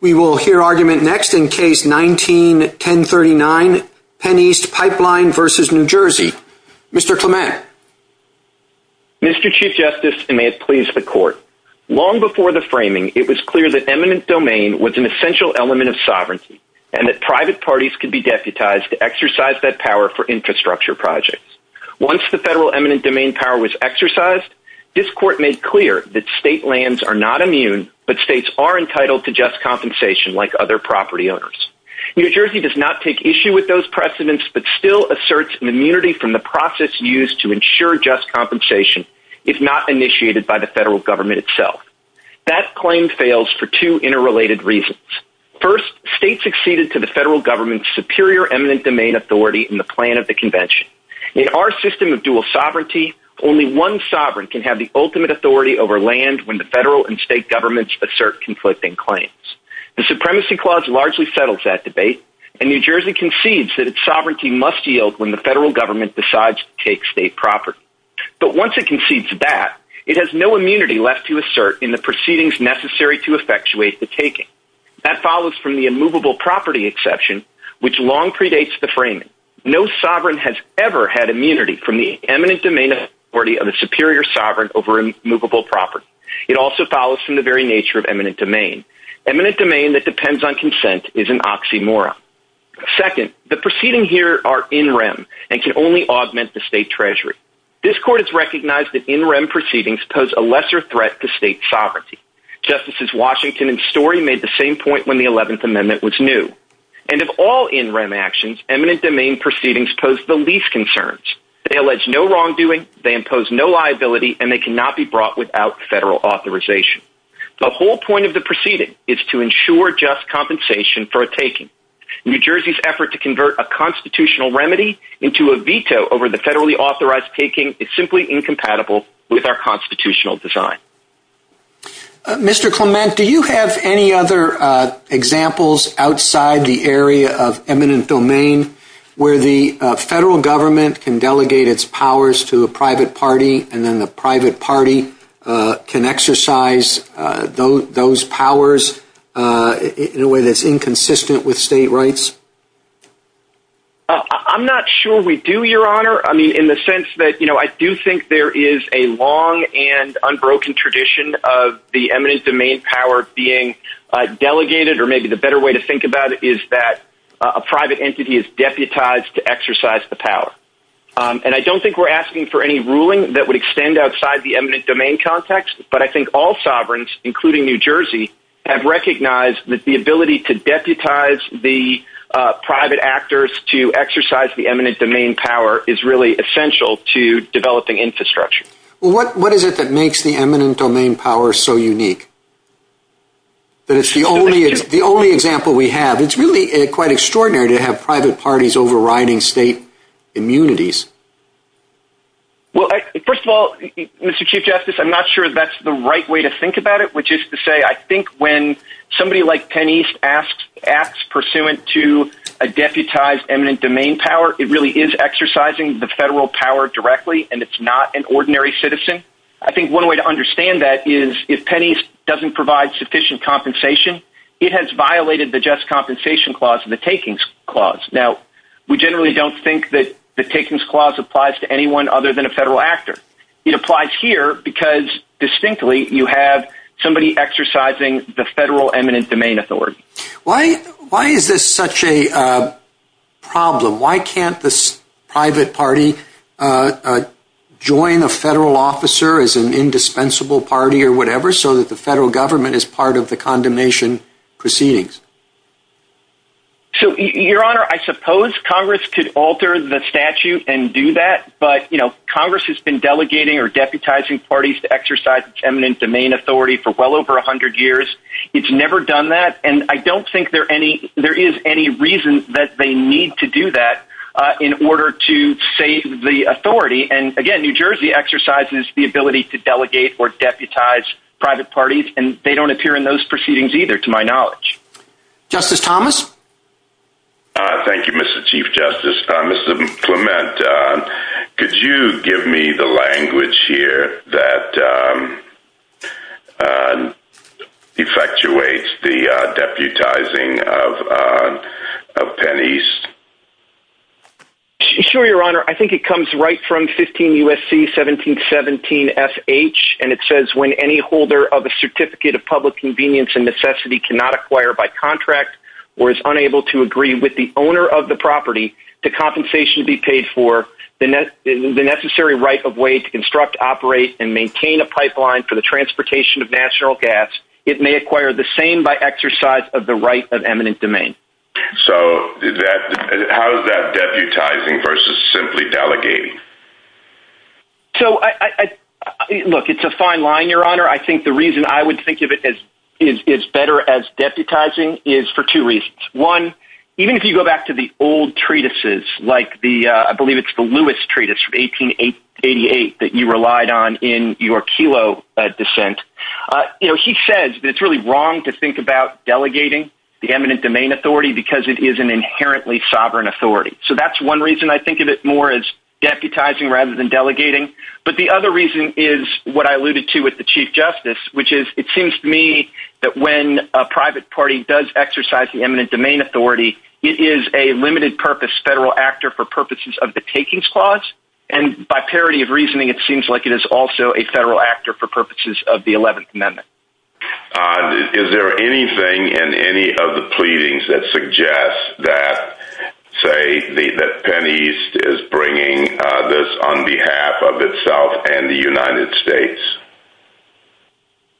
We will hear argument next in Case 19-1039, Penneast Pipeline v. New Jersey. Mr. Clement. Mr. Chief Justice, and may it please the Court, long before the framing, it was clear that eminent domain was an essential element of sovereignty and that private parties could be deputized to exercise that power for infrastructure projects. Once the federal eminent domain power was exercised, this Court made clear that state lands are not immune, but states are entitled to just compensation like other property owners. New Jersey does not take issue with those precedents, but still asserts an immunity from the process used to ensure just compensation if not initiated by the federal government itself. That claim fails for two interrelated reasons. First, states acceded to the federal government's superior eminent domain authority in the plan of the Convention. In our system of dual sovereignty, only one sovereign can have the ultimate authority over land when the federal and state governments assert conflicting claims. The Supremacy Clause largely settles that debate, and New Jersey concedes that its sovereignty must yield when the federal government decides to take state property. But once it concedes that, it has no immunity left to assert in the proceedings necessary to effectuate the taking. That follows from the immovable property exception, which long predates the framing. No sovereign has ever had immunity from the eminent domain authority of a superior sovereign over immovable property. It also follows from the very nature of eminent domain. Eminent domain that depends on consent is an oxymoron. Second, the proceedings here are in rem and can only augment the state treasury. This Court has recognized that in rem proceedings pose a lesser threat to state sovereignty. Justices Washington and Story made the same point when the 11th Amendment was new. And of all in rem actions, eminent domain proceedings pose the least concerns. They allege no wrongdoing, they impose no liability, and they cannot be brought without federal authorization. The whole point of the proceeding is to ensure just compensation for a taking. New Jersey's effort to convert a constitutional remedy into a veto over the federally authorized taking is simply incompatible with our constitutional design. Mr. Clement, do you have any other examples outside the area of eminent domain where the federal government can delegate its powers to a private party and then the private party can exercise those powers in a way that's inconsistent with state rights? I'm not sure we do, Your Honor. I mean, in the sense that I do think there is a long and unbroken tradition of the eminent domain power being delegated, or maybe the better way to think about it is that a private entity is deputized to exercise the power. And I don't think we're asking for any ruling that would extend outside the eminent domain context, but I think all sovereigns, including New Jersey, have recognized that the ability to deputize the private actors to exercise the eminent domain power is really essential to developing infrastructure. What is it that makes the eminent domain power so unique? That it's the only example we have. It's really quite extraordinary to have private parties overriding state immunities. Well, first of all, Mr. Chief Justice, I'm not sure that's the right way to think about it, which is to say I think when somebody like Penn East acts pursuant to a deputized eminent domain power, it really is exercising the federal power directly, and it's not an ordinary citizen. I think one way to understand that is if Penn East doesn't provide sufficient compensation, it has violated the Just Compensation Clause and the Takings Clause. Now, we generally don't think that the Takings Clause applies to anyone other than a federal actor. It applies here because distinctly you have somebody exercising the federal eminent domain authority. Why is this such a problem? Why can't this private party join a federal officer as an indispensable party or whatever so that the federal government is part of the condemnation proceedings? So, Your Honor, I suppose Congress could alter the statute and do that, but Congress has been delegating or deputizing parties to exercise its eminent domain authority for well over 100 years. It's never done that, and I don't think there is any reason that they need to do that in order to save the authority. And, again, New Jersey exercises the ability to delegate or deputize private parties, and they don't appear in those proceedings either to my knowledge. Justice Thomas? Thank you, Mr. Chief Justice. Justice Clement, could you give me the language here that effectuates the deputizing of Penn East? Sure, Your Honor. I think it comes right from 15 U.S.C. 1717 F.H., and it says when any holder of a certificate of public convenience and necessity cannot acquire by contract or is unable to agree with the owner of the property to compensation be paid for the necessary right of way to construct, operate, and maintain a pipeline for the transportation of natural gas, it may acquire the same by exercise of the right of eminent domain. So how is that deputizing versus simply delegating? Look, it's a fine line, Your Honor. I think the reason I would think of it as better as deputizing is for two reasons. One, even if you go back to the old treatises, like I believe it's the Lewis treatise from 1888 that you relied on in your Kelo dissent, he says that it's really wrong to think about delegating the eminent domain authority because it is an inherently sovereign authority. So that's one reason I think of it more as deputizing rather than delegating. But the other reason is what I alluded to with the Chief Justice, which is it seems to me that when a private party does exercise the eminent domain authority, it is a limited purpose federal actor for purposes of the takings clause, and by parity of reasoning, it seems like it is also a federal actor for purposes of the 11th Amendment. Is there anything in any of the pleadings that suggests that, say, that Penn East is bringing this on behalf of itself and the United States?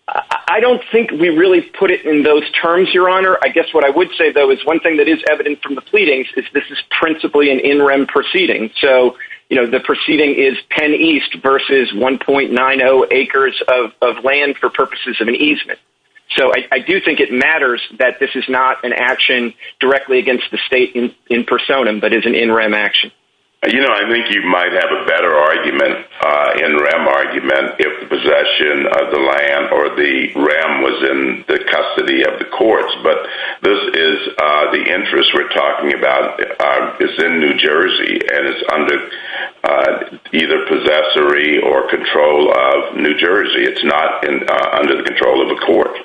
I don't think we really put it in those terms, Your Honor. I guess what I would say, though, is one thing that is evident from the pleadings is this is principally an in-rem proceeding. So the proceeding is Penn East versus 1.90 acres of land for purposes of an easement. So I do think it matters that this is not an action directly against the state in personam but is an in-rem action. I think you might have a better in-rem argument if the possession of the land or the rem was in the custody of the courts. But this is the interest we're talking about. It's in New Jersey, and it's under either possessory or control of New Jersey. It's not under the control of a court.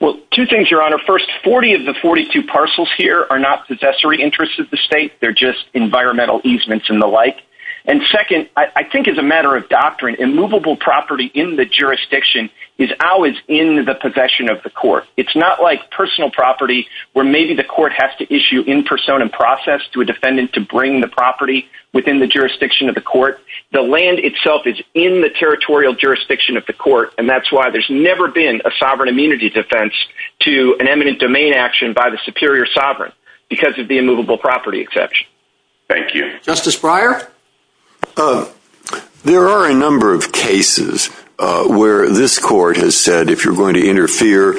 Well, two things, Your Honor. First, 40 of the 42 parcels here are not possessory interests of the state. They're just environmental easements and the like. And second, I think as a matter of doctrine, immovable property in the jurisdiction is always in the possession of the court. It's not like personal property where maybe the court has to issue in personam process to a defendant to bring the property within the jurisdiction of the court. The land itself is in the territorial jurisdiction of the court, and that's why there's never been a sovereign immunity defense to an eminent domain action by the superior sovereign because of the immovable property exception. Thank you. Justice Breyer? There are a number of cases where this court has said if you're going to interfere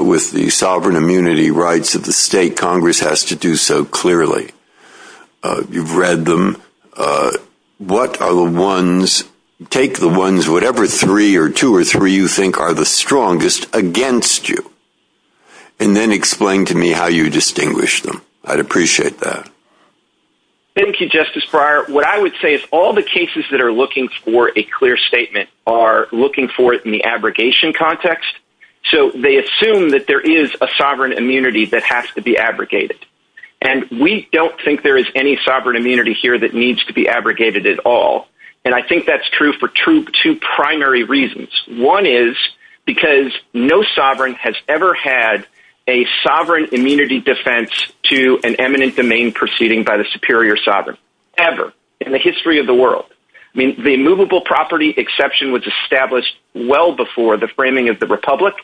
with the sovereign immunity rights of the state, Congress has to do so clearly. You've read them. What are the ones take the ones, whatever three or two or three you think are the strongest against you? And then explain to me how you distinguish them. I'd appreciate that. Thank you, Justice Breyer. What I would say is all the cases that are looking for a clear statement are looking for it in the abrogation context. So they assume that there is a sovereign immunity that has to be abrogated. And we don't think there is any sovereign immunity here that needs to be abrogated at all. And I think that's true for two primary reasons. One is because no sovereign has ever had a sovereign immunity defense to an eminent domain proceeding by the superior sovereign ever in the history of the world. I mean, the immovable property exception was established well before the framing of the republic.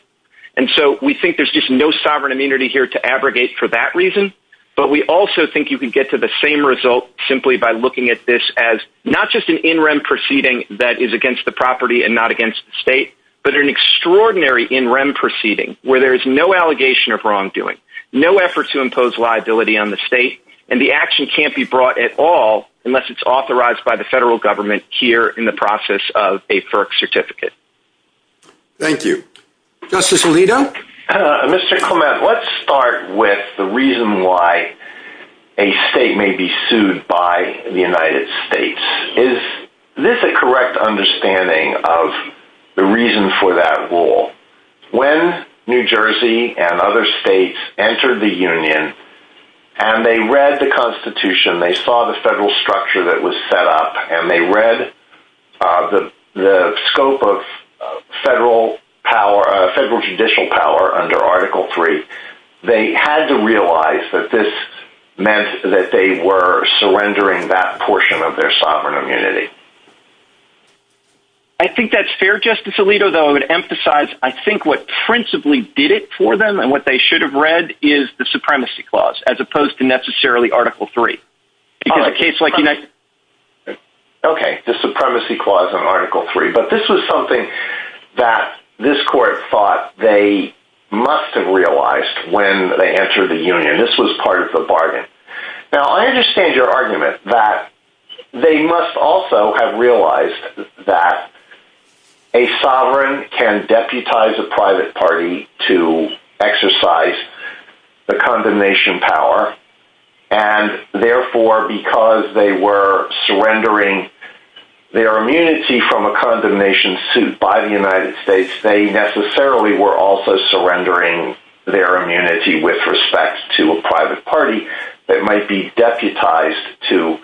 And so we think there's just no sovereign immunity here to abrogate for that reason. But we also think you can get to the same result simply by looking at this as not just an in rem proceeding that is against the property and not against the state. But an extraordinary in rem proceeding where there is no allegation of wrongdoing, no effort to impose liability on the state. And the action can't be brought at all unless it's authorized by the federal government here in the process of a FERC certificate. Thank you. Justice Alito? Mr. Clement, let's start with the reason why a state may be sued by the United States. Is this a correct understanding of the reason for that rule? When New Jersey and other states entered the union and they read the Constitution, they saw the federal structure that was set up, and they read the scope of federal judicial power under Article 3. They had to realize that this meant that they were surrendering that portion of their sovereign immunity. I think that's fair, Justice Alito, though I would emphasize I think what principally did it for them and what they should have read is the supremacy clause as opposed to necessarily Article 3. Okay, the supremacy clause in Article 3. But this was something that this court thought they must have realized when they entered the union. This was part of the bargain. Now I understand your argument that they must also have realized that a sovereign can deputize a private party to exercise the condemnation power and therefore because they were surrendering their immunity from a condemnation suit by the United States, they necessarily were also surrendering their immunity with respect to a private party that might be deputized to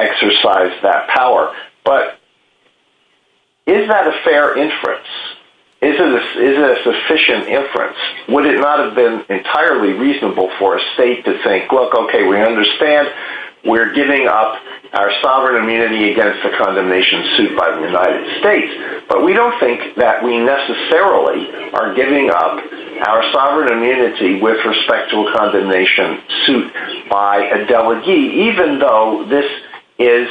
exercise that power. But is that a fair inference? Is it a sufficient inference? Would it not have been entirely reasonable for a state to think, look, okay, we understand we're giving up our sovereign immunity against a condemnation suit by the United States, but we don't think that we necessarily are giving up our sovereign immunity with respect to a condemnation suit by a delegee, even though this is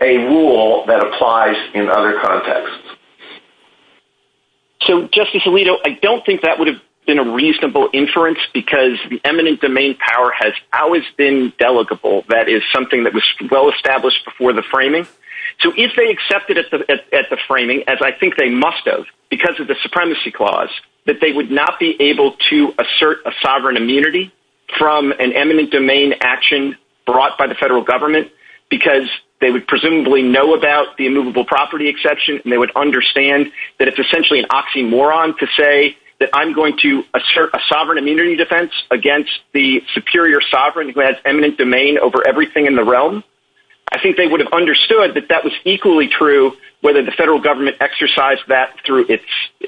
a rule that applies in other contexts. So Justice Alito, I don't think that would have been a reasonable inference because the eminent domain power has always been delegable. That is something that was well-established before the framing. So if they accepted at the framing, as I think they must have because of the supremacy clause, that they would not be able to assert a sovereign immunity from an eminent domain action brought by the federal government because they would presumably know about the immovable property exception, and they would understand that it's essentially an oxymoron to say that I'm going to assert a sovereign immunity defense against the superior sovereign who has eminent domain over everything in the realm. I think they would have understood that that was equally true whether the federal government exercised that through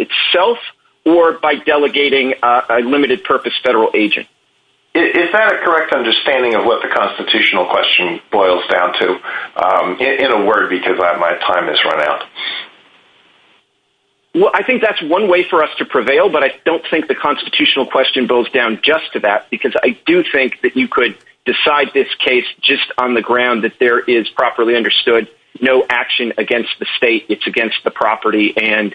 itself or by delegating a limited purpose federal agent. Is that a correct understanding of what the constitutional question boils down to in a word because my time has run out? Well, I think that's one way for us to prevail, but I don't think the constitutional question boils down just to that because I do think that you could decide this case just on the ground that there is properly understood no action against the state. It's against the property and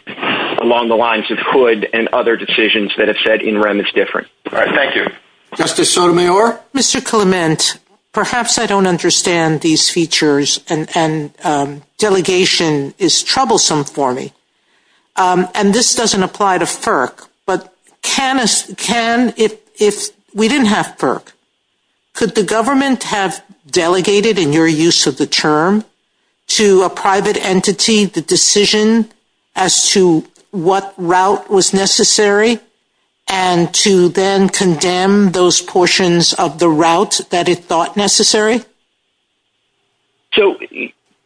along the lines of Hood and other decisions that have said in rem is different. All right, thank you. Justice Sotomayor? Mr. Clement, perhaps I don't understand these features and delegation is troublesome for me, and this doesn't apply to FERC, but we didn't have FERC. Could the government have delegated in your use of the term to a private entity the decision as to what route was necessary and to then condemn those portions of the route that it thought necessary? So,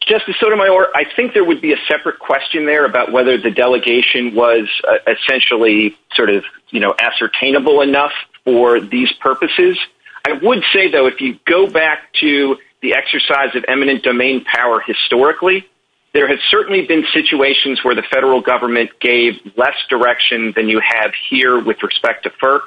Justice Sotomayor, I think there would be a separate question there about whether the delegation was essentially sort of, you know, ascertainable enough for these purposes. I would say, though, if you go back to the exercise of eminent domain power historically, there had certainly been situations where the federal government gave less direction than you have here with respect to FERC.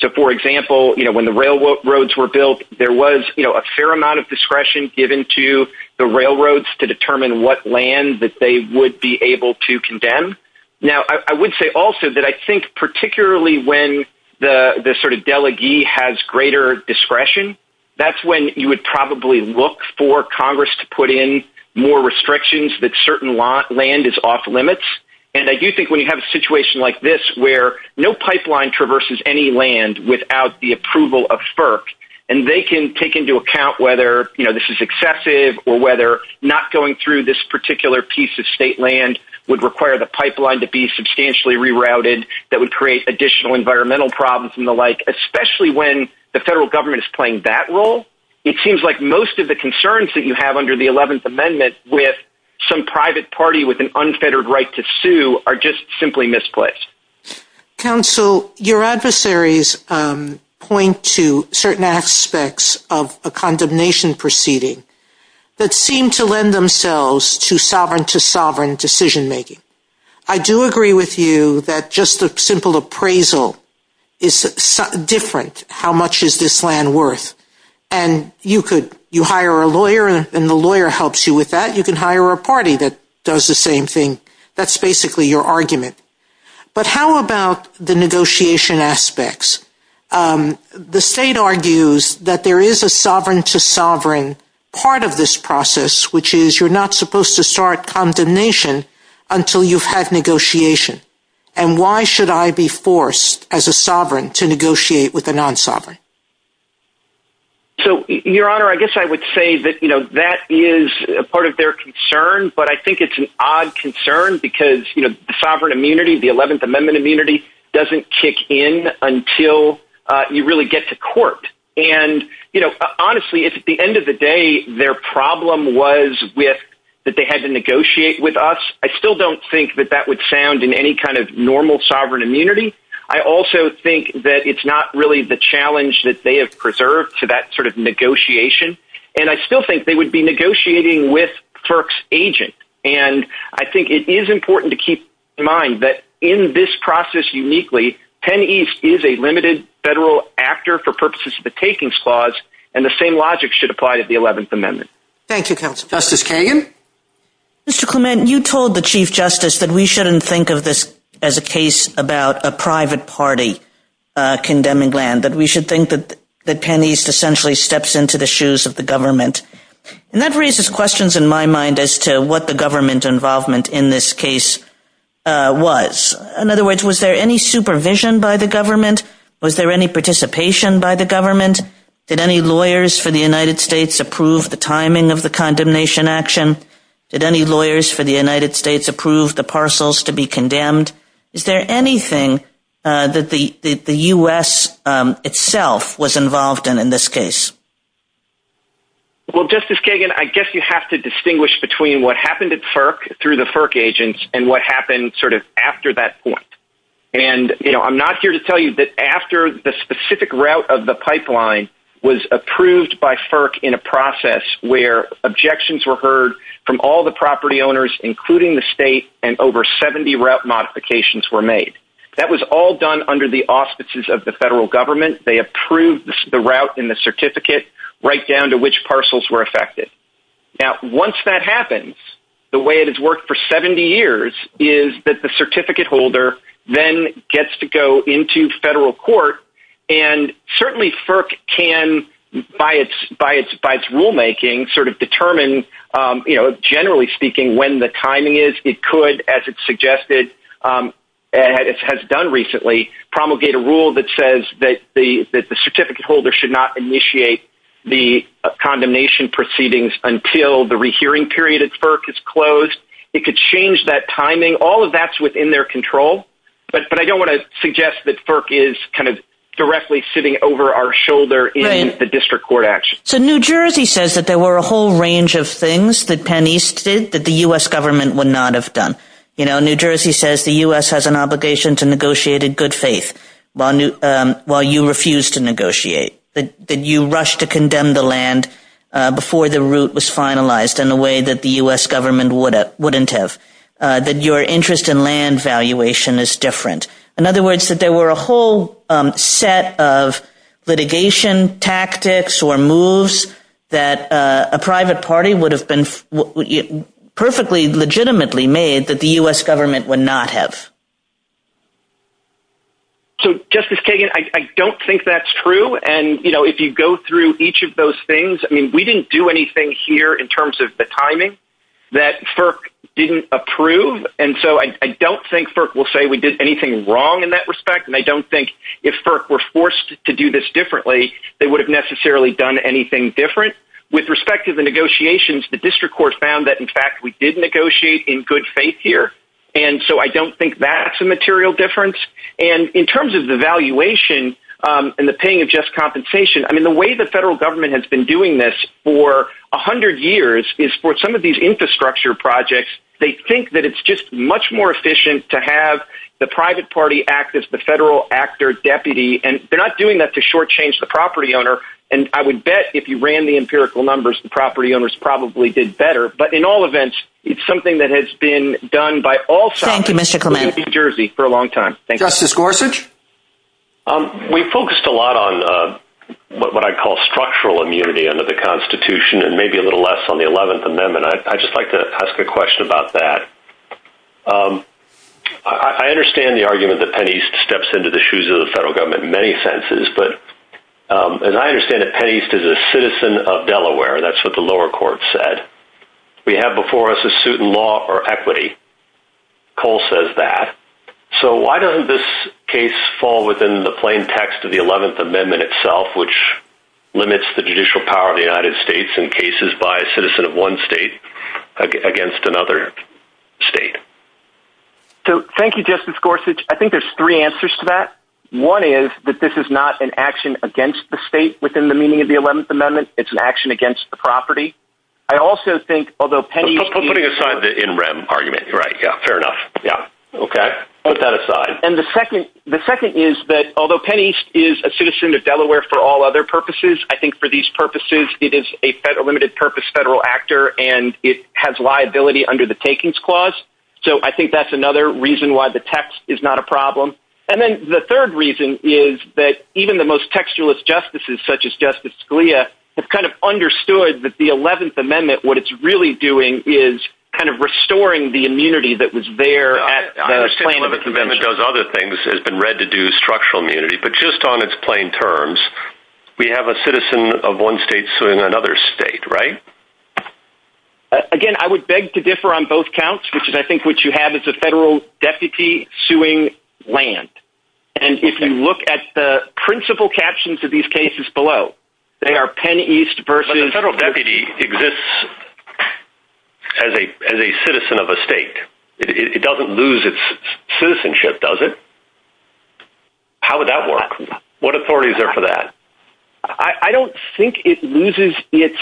So, for example, you know, when the railroads were built, there was, you know, a fair amount of discretion given to the railroads to determine what land that they would be able to condemn. Now, I would say also that I think particularly when the sort of delegee has greater discretion, that's when you would probably look for Congress to put in more restrictions that certain land is off limits. And I do think when you have a situation like this where no pipeline traverses any land without the approval of FERC, and they can take into account whether, you know, this is excessive or whether not going through this particular piece of state land would require the pipeline to be substantially rerouted that would create additional environmental problems and the like, especially when the federal government is playing that role. It seems like most of the concerns that you have under the 11th Amendment with some private party with an unfettered right to sue are just simply misplaced. Counsel, your adversaries point to certain aspects of a condemnation proceeding that seem to lend themselves to sovereign to sovereign decision making. I do agree with you that just a simple appraisal is different. How much is this land worth? And you could, you hire a lawyer and the lawyer helps you with that. You can hire a party that does the same thing. That's basically your argument. But how about the negotiation aspects? The state argues that there is a sovereign to sovereign part of this process, which is you're not supposed to start condemnation until you've had negotiation. And why should I be forced as a sovereign to negotiate with a non-sovereign? So, Your Honor, I guess I would say that, you know, that is a part of their concern. But I think it's an odd concern because, you know, the sovereign immunity, the 11th Amendment immunity doesn't kick in until you really get to court. And, you know, honestly, it's at the end of the day, their problem was with that they had to negotiate with us. I still don't think that that would sound in any kind of normal sovereign immunity. I also think that it's not really the challenge that they have preserved to that sort of negotiation. And I still think they would be negotiating with FERC's agent. And I think it is important to keep in mind that in this process uniquely, Penn East is a limited federal actor for purposes of the takings clause. And the same logic should apply to the 11th Amendment. Thank you, Justice Kagan. Mr. Clement, you told the Chief Justice that we shouldn't think of this as a case about a private party condemning land, that we should think that Penn East essentially steps into the shoes of the government. And that raises questions in my mind as to what the government's involvement in this case was. In other words, was there any supervision by the government? Was there any participation by the government? Did any lawyers for the United States approve the timing of the condemnation action? Did any lawyers for the United States approve the parcels to be condemned? Is there anything that the U.S. itself was involved in in this case? Well, Justice Kagan, I guess you have to distinguish between what happened at FERC through the FERC agents and what happened sort of after that point. And, you know, I'm not here to tell you that after the specific route of the pipeline was approved by FERC in a process where objections were heard from all the property owners, including the state, and over 70 route modifications were made. That was all done under the auspices of the federal government. They approved the route and the certificate right down to which parcels were affected. Now, once that happens, the way it has worked for 70 years is that the certificate holder then gets to go into federal court, and certainly FERC can, by its rulemaking, sort of determine, generally speaking, when the timing is. It could, as it's suggested, and it has done recently, promulgate a rule that says that the certificate holder should not initiate the condemnation proceedings until the rehearing period at FERC is closed. It could change that timing. All of that's within their control, but I don't want to suggest that FERC is kind of directly sitting over our shoulder in the district court action. So New Jersey says that there were a whole range of things that Penn East did that the U.S. government would not have done. You know, New Jersey says the U.S. has an obligation to negotiate in good faith while you refuse to negotiate, that you rush to condemn the land before the route was finalized in a way that the U.S. government wouldn't have, that your interest in land valuation is different. In other words, that there were a whole set of litigation tactics or moves that a private party would have been perfectly legitimately made that the U.S. government would not have. So Justice Kagan, I don't think that's true. And, you know, if you go through each of those things, I mean, we didn't do anything here in terms of the timing that FERC didn't approve. And so I don't think FERC will say we did anything wrong in that respect. And I don't think if FERC were forced to do this differently, they would have necessarily done anything different. With respect to the negotiations, the district court found that, in fact, we did negotiate in good faith here. And so I don't think that's a material difference. And in terms of the valuation and the paying of just compensation, I mean, the way the federal government has been doing this for 100 years is for some of these infrastructure projects, they think that it's just much more efficient to have the private party act as the federal actor deputy. And they're not doing that to shortchange the property owner. And I would bet if you ran the empirical numbers, the property owners probably did better. But in all events, it's something that has been done by all sides in New Jersey for a long time. Justice Gorsuch? We focused a lot on what I call structural immunity under the Constitution and maybe a little less on the 11th Amendment. I just like to ask a question about that. I understand the argument that Penn East steps into the shoes of the federal government in many senses. But as I understand it, Penn East is a citizen of Delaware. That's what the lower court said. We have before us a suit in law or equity. Cole says that. So why doesn't this case fall within the plain text of the 11th Amendment itself, which limits the judicial power of the United States in cases by a citizen of one state against another state? So thank you, Justice Gorsuch. I think there's three answers to that. One is that this is not an action against the state within the meaning of the 11th Amendment. It's an action against the property. I also think, although Penn East… I'm putting aside the in rem argument. Fair enough. Put that aside. And the second is that although Penn East is a citizen of Delaware for all other purposes, I think for these purposes it is a limited purpose federal actor and it has liability under the takings clause. So I think that's another reason why the text is not a problem. And then the third reason is that even the most textualist justices, such as Justice Scalia, have kind of understood that the 11th Amendment, what it's really doing is kind of restoring the immunity that was there. I understand that the Amendment does other things. It's been read to do structural immunity. But just on its plain terms, we have a citizen of one state suing another state, right? Again, I would beg to differ on both counts, which is I think what you have is a federal deputy suing land. And if you look at the principal captions of these cases below, they are Penn East versus… But a federal deputy exists as a citizen of a state. It doesn't lose its citizenship, does it? How would that work? What authorities are for that? I don't think it loses its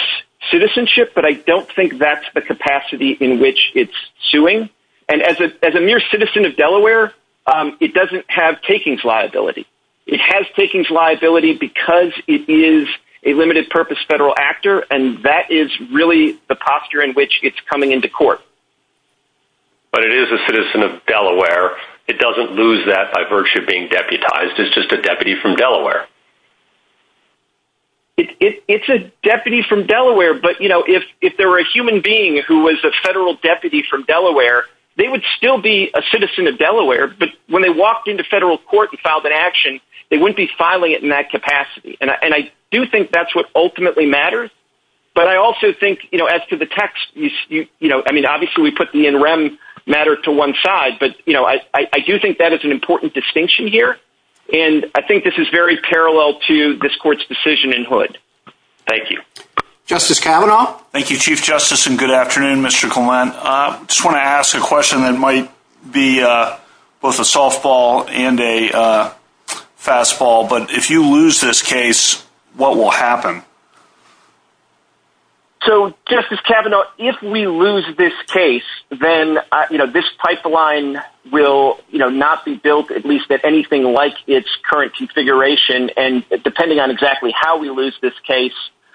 citizenship, but I don't think that's the capacity in which it's suing. And as a mere citizen of Delaware, it doesn't have takings liability. It has takings liability because it is a limited purpose federal actor, and that is really the posture in which it's coming into court. But it is a citizen of Delaware. It doesn't lose that by virtue of being deputized. It's just a deputy from Delaware. It's a deputy from Delaware, but, you know, if there were a human being who was a federal deputy from Delaware, they would still be a citizen of Delaware. But when they walked into federal court and filed an action, they wouldn't be filing it in that capacity. And I do think that's what ultimately matters. But I also think, you know, as to the text, you know, I mean, obviously, we put the NREM matter to one side. But, you know, I do think that is an important distinction here. And I think this is very parallel to this court's decision in Hood. Thank you. Justice Kavanaugh? Thank you, Chief Justice, and good afternoon, Mr. Collin. I just want to ask a question that might be both a softball and a fastball. But if you lose this case, what will happen? So, Justice Kavanaugh, if we lose this case, then, you know, this pipeline will, you know, not be built at least at anything like its current configuration. And depending on exactly how we lose this case,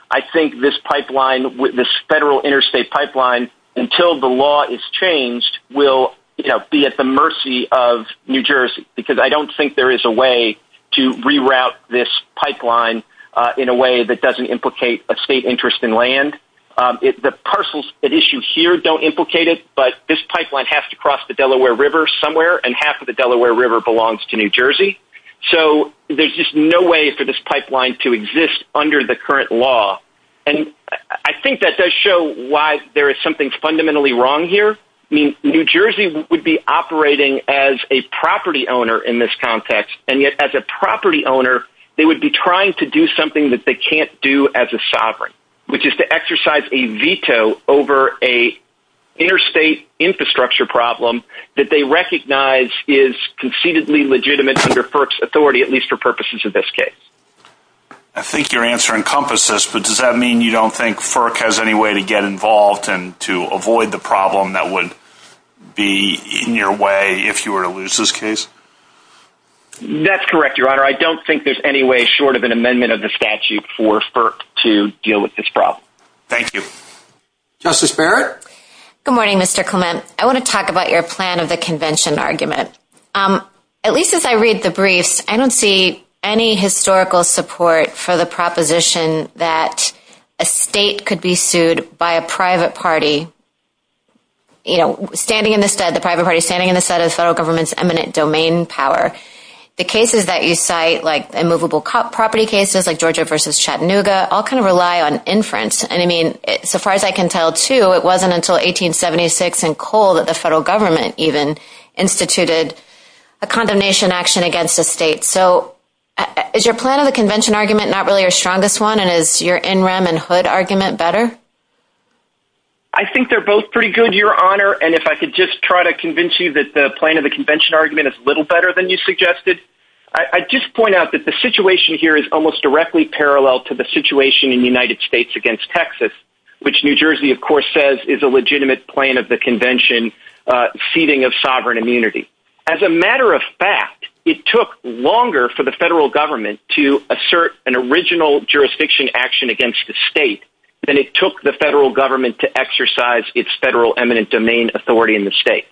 I think this pipeline, this federal interstate pipeline, until the law is changed, will, you know, be at the mercy of New Jersey, because I don't think there is a way to reroute this pipeline in a way that doesn't implicate a state interest in land. The parcels at issue here don't implicate it, but this pipeline has to cross the Delaware River somewhere, and half of the Delaware River belongs to New Jersey. So there's just no way for this pipeline to exist under the current law. And I think that does show why there is something fundamentally wrong here. I mean, New Jersey would be operating as a property owner in this context, and yet as a property owner, they would be trying to do something that they can't do as a sovereign, which is to exercise a veto over an interstate infrastructure problem that they recognize is concededly legitimate under FERC's authority, at least for purposes of this case. I think your answer encompasses, but does that mean you don't think FERC has any way to get involved and to avoid the problem that would be in your way if you were to lose this case? That's correct, Your Honor. I don't think there's any way short of an amendment of the statute for FERC to deal with this problem. Thank you. Justice Barrett? Good morning, Mr. Clement. I want to talk about your plan of a convention argument. At least as I read the brief, I don't see any historical support for the proposition that a state could be sued by a private party standing in the stead of federal government's eminent domain power. The cases that you cite, like immovable property cases like Georgia versus Chattanooga, all kind of rely on inference. As far as I can tell, too, it wasn't until 1876 in Cole that the federal government even instituted a condemnation action against the state. Is your plan of a convention argument not really your strongest one, and is your NREM and HUD argument better? I think they're both pretty good, Your Honor. If I could just try to convince you that the plan of the convention argument is a little better than you suggested. I'd just point out that the situation here is almost directly parallel to the situation in the United States against Texas, which New Jersey, of course, says is a legitimate plan of the convention ceding of sovereign immunity. As a matter of fact, it took longer for the federal government to assert an original jurisdiction action against the state than it took the federal government to exercise its federal eminent domain authority in the states.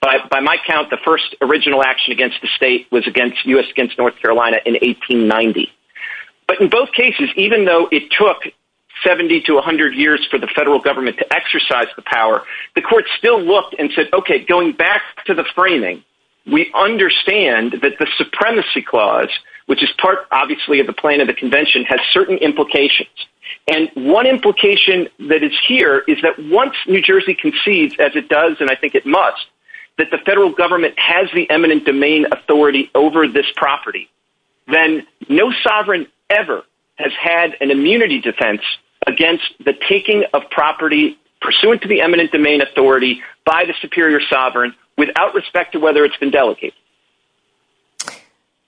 By my count, the first original action against the state was U.S. against North Carolina in 1890. But in both cases, even though it took 70 to 100 years for the federal government to exercise the power, the court still looked and said, OK, going back to the framing, we understand that the supremacy clause, which is part, obviously, of the plan of the convention, has certain implications. And one implication that is here is that once New Jersey concedes, as it does, and I think it must, that the federal government has the eminent domain authority over this property, then no sovereign ever has had an immunity defense against the taking of property pursuant to the eminent domain authority by the superior sovereign without respect to whether it's been delegated.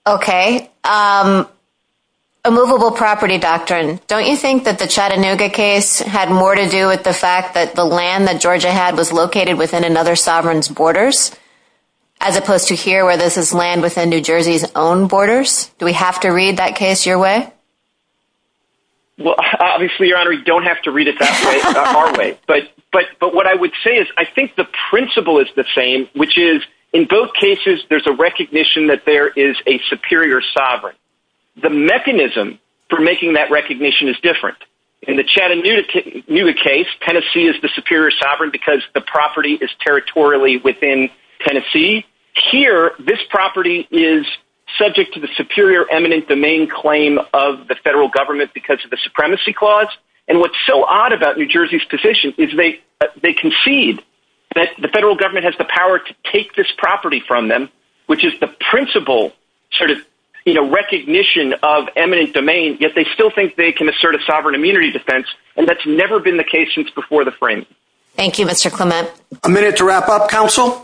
OK, a movable property doctrine. Don't you think that the Chattanooga case had more to do with the fact that the land that Georgia had was located within another sovereign's borders, as opposed to here where this is land within New Jersey's own borders? Do we have to read that case your way? Well, obviously, Your Honor, you don't have to read it that way, our way. But what I would say is I think the principle is the same, which is in both cases, there's a recognition that there is a superior sovereign. The mechanism for making that recognition is different. In the Chattanooga case, Tennessee is the superior sovereign because the property is territorially within Tennessee. Here, this property is subject to the superior eminent domain claim of the federal government because of the supremacy clause. And what's so odd about New Jersey's position is they concede that the federal government has the power to take this property from them, which is the principle sort of recognition of eminent domain, yet they still think they can assert a sovereign immunity defense. And that's never been the case since before the framing. Thank you, Mr. Clement. A minute to wrap up, counsel.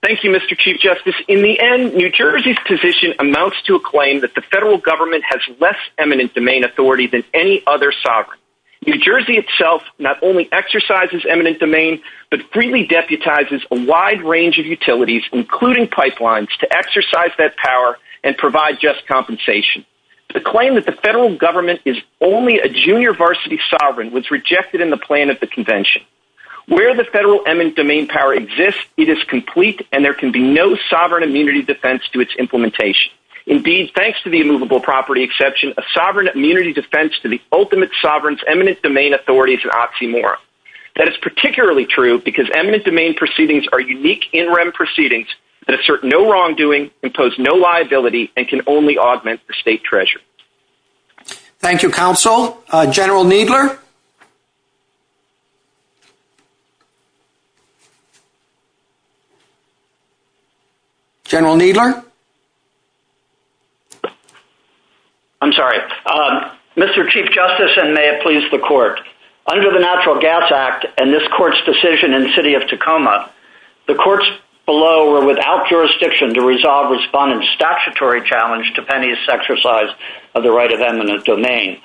Thank you, Mr. Chief Justice. In the end, New Jersey's position amounts to a claim that the federal government has less eminent domain authority than any other sovereign. New Jersey itself not only exercises eminent domain, but freely deputizes a wide range of utilities, including pipelines, to exercise that power and provide just compensation. The claim that the federal government is only a junior varsity sovereign was rejected in the plan of the convention. Where the federal eminent domain power exists, it is complete, and there can be no sovereign immunity defense to its implementation. Indeed, thanks to the immovable property exception, a sovereign immunity defense to the ultimate sovereign's eminent domain authority is an oxymoron. That is particularly true because eminent domain proceedings are unique in rem proceedings that assert no wrongdoing, impose no liability, and can only augment the state treasury. Thank you, counsel. General Needler? General Needler? I'm sorry. Mr. Chief Justice, and may it please the court, under the Natural Gas Act and this court's decision in the city of Tacoma, the courts below were without jurisdiction to resolve respondents' statutory challenge to pennies exercised of the right of eminent domain.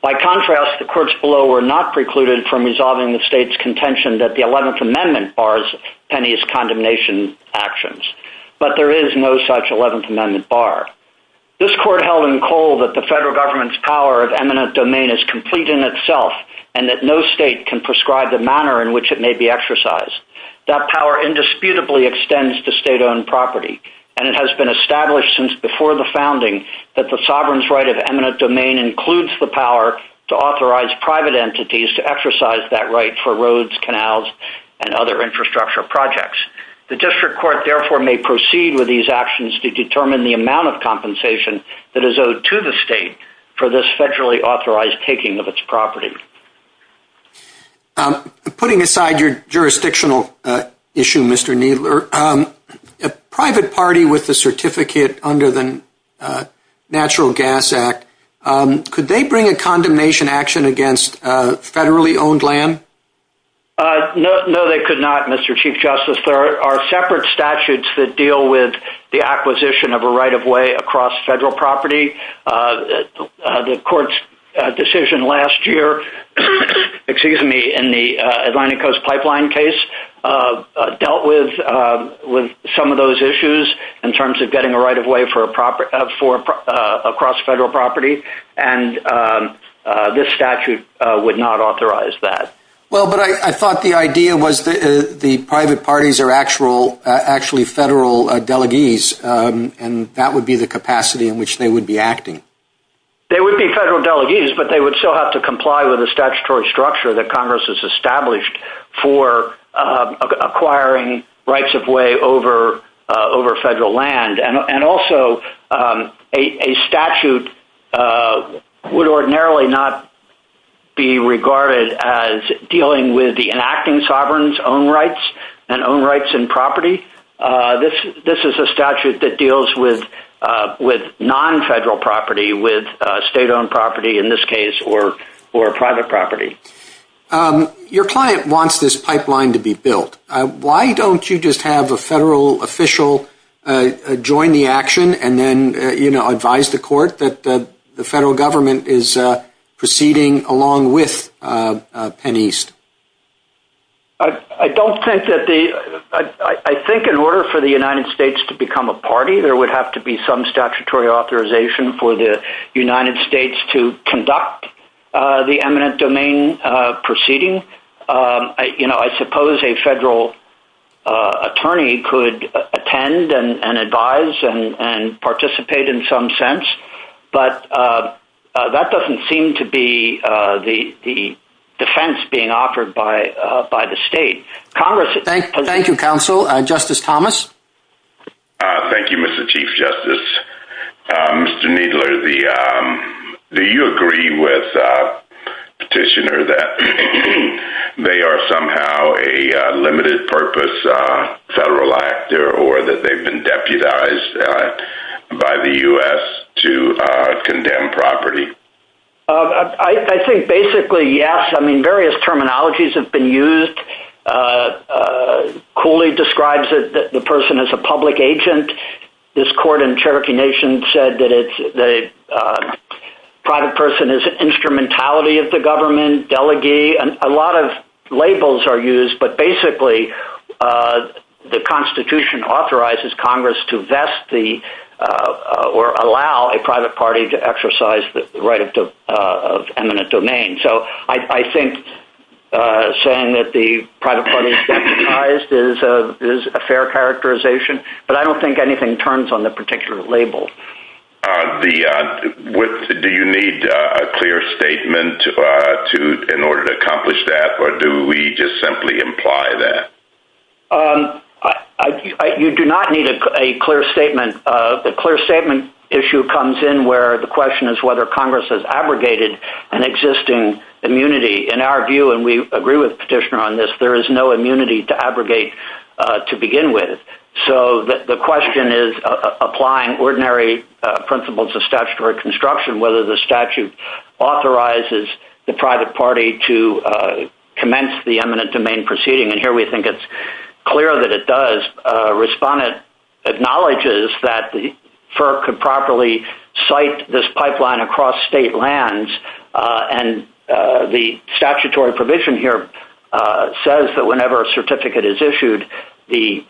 By contrast, the courts below were not precluded from resolving the state's contention that the 11th Amendment bars pennies condemnation actions. But there is no such 11th Amendment bar. This court held in cold that the federal government's power of eminent domain is complete in itself and that no state can prescribe the manner in which it may be exercised. That power indisputably extends to state-owned property, and it has been established since before the founding that the sovereign's right of eminent domain includes the power to authorize private entities to exercise that right for roads, canals, and other infrastructure projects. The district court, therefore, may proceed with these actions to determine the amount of compensation that is owed to the state for this federally authorized taking of its property. Putting aside your jurisdictional issue, Mr. Kneedler, a private party with a certificate under the Natural Gas Act, could they bring a condemnation action against federally owned land? No, they could not, Mr. Chief Justice. There are separate statutes that deal with the acquisition of a right of way across federal property. The court's decision last year in the Atlantic Coast Pipeline case dealt with some of those issues in terms of getting a right of way across federal property, and this statute would not authorize that. Well, but I thought the idea was that the private parties are actually federal delegates, and that would be the capacity in which they would be acting. They would be federal delegates, but they would still have to comply with the statutory structure that Congress has established for acquiring rights of way over federal land. And also, a statute would ordinarily not be regarded as dealing with the enacting sovereign's own rights and own rights in property. This is a statute that deals with non-federal property, with state-owned property, in this case, or private property. Your client wants this pipeline to be built. Why don't you just have a federal official join the action and then advise the court that the federal government is proceeding along with Penn East? I think in order for the United States to become a party, there would have to be some statutory authorization for the United States to conduct the eminent domain proceeding. I suppose a federal attorney could attend and advise and participate in some sense, but that doesn't seem to be the defense being offered by the state. Thank you, counsel. Justice Thomas? Thank you, Mr. Chief Justice. Mr. Kneedler, do you agree with the petitioner that they are somehow a limited-purpose federal actor or that they've been deputized by the U.S. to condemn property? I think basically, yes. Various terminologies have been used. Cooley describes the person as a public agent. This court in the Cherokee Nation said that the private person is an instrumentality of the government, delegee. A lot of labels are used, but basically, the Constitution authorizes Congress to vest or allow a private party to exercise the right of eminent domain. So I think saying that the private party is deputized is a fair characterization, but I don't think anything turns on the particular label. Do you need a clear statement in order to accomplish that, or do we just simply imply that? You do not need a clear statement. The clear statement issue comes in where the question is whether Congress has abrogated an existing immunity. In our view, and we agree with the petitioner on this, there is no immunity to abrogate to begin with. So the question is applying ordinary principles of statutory construction, whether the statute authorizes the private party to commence the eminent domain proceeding. And here we think it's clear that it does. Respondent acknowledges that FERC could properly cite this pipeline across state lands, and the statutory provision here says that whenever a certificate is issued, the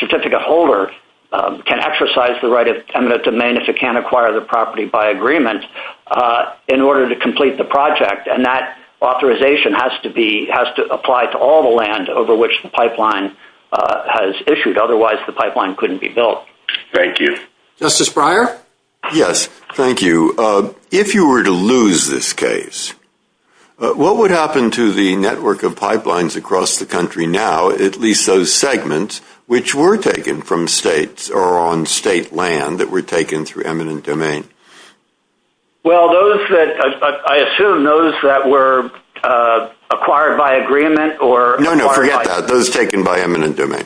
certificate holder can exercise the right of eminent domain if it can't acquire the property by agreement in order to complete the project. And that authorization has to apply to all the land over which the pipeline has issued. Otherwise, the pipeline couldn't be built. Thank you. Justice Breyer? Yes, thank you. If you were to lose this case, what would happen to the network of pipelines across the country now, at least those segments which were taken from states or on state land that were taken through eminent domain? Well, those that – I assume those that were acquired by agreement or – No, no, forget that. Those taken by eminent domain.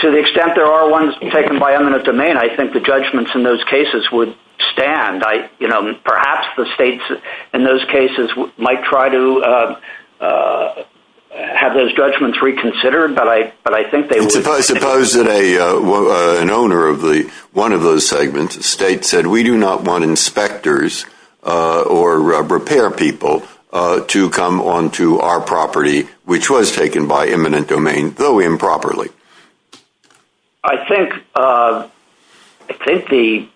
To the extent there are ones taken by eminent domain, I think the judgments in those cases would stand. Perhaps the states in those cases might try to have those judgments reconsidered, but I think they would – If I suppose that an owner of one of those segments, a state, said, we do not want inspectors or repair people to come onto our property which was taken by eminent domain, though improperly. I think the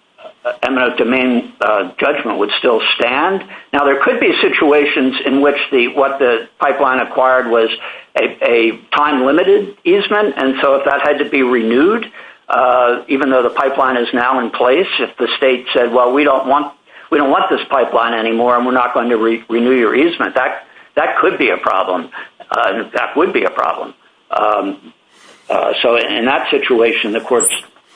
eminent domain judgment would still stand. Now, there could be situations in which what the pipeline acquired was a time-limited easement, and so if that had to be renewed, even though the pipeline is now in place, if the state said, well, we don't want this pipeline anymore, and we're not going to renew your easement, that could be a problem. In fact, would be a problem. So in that situation, the court's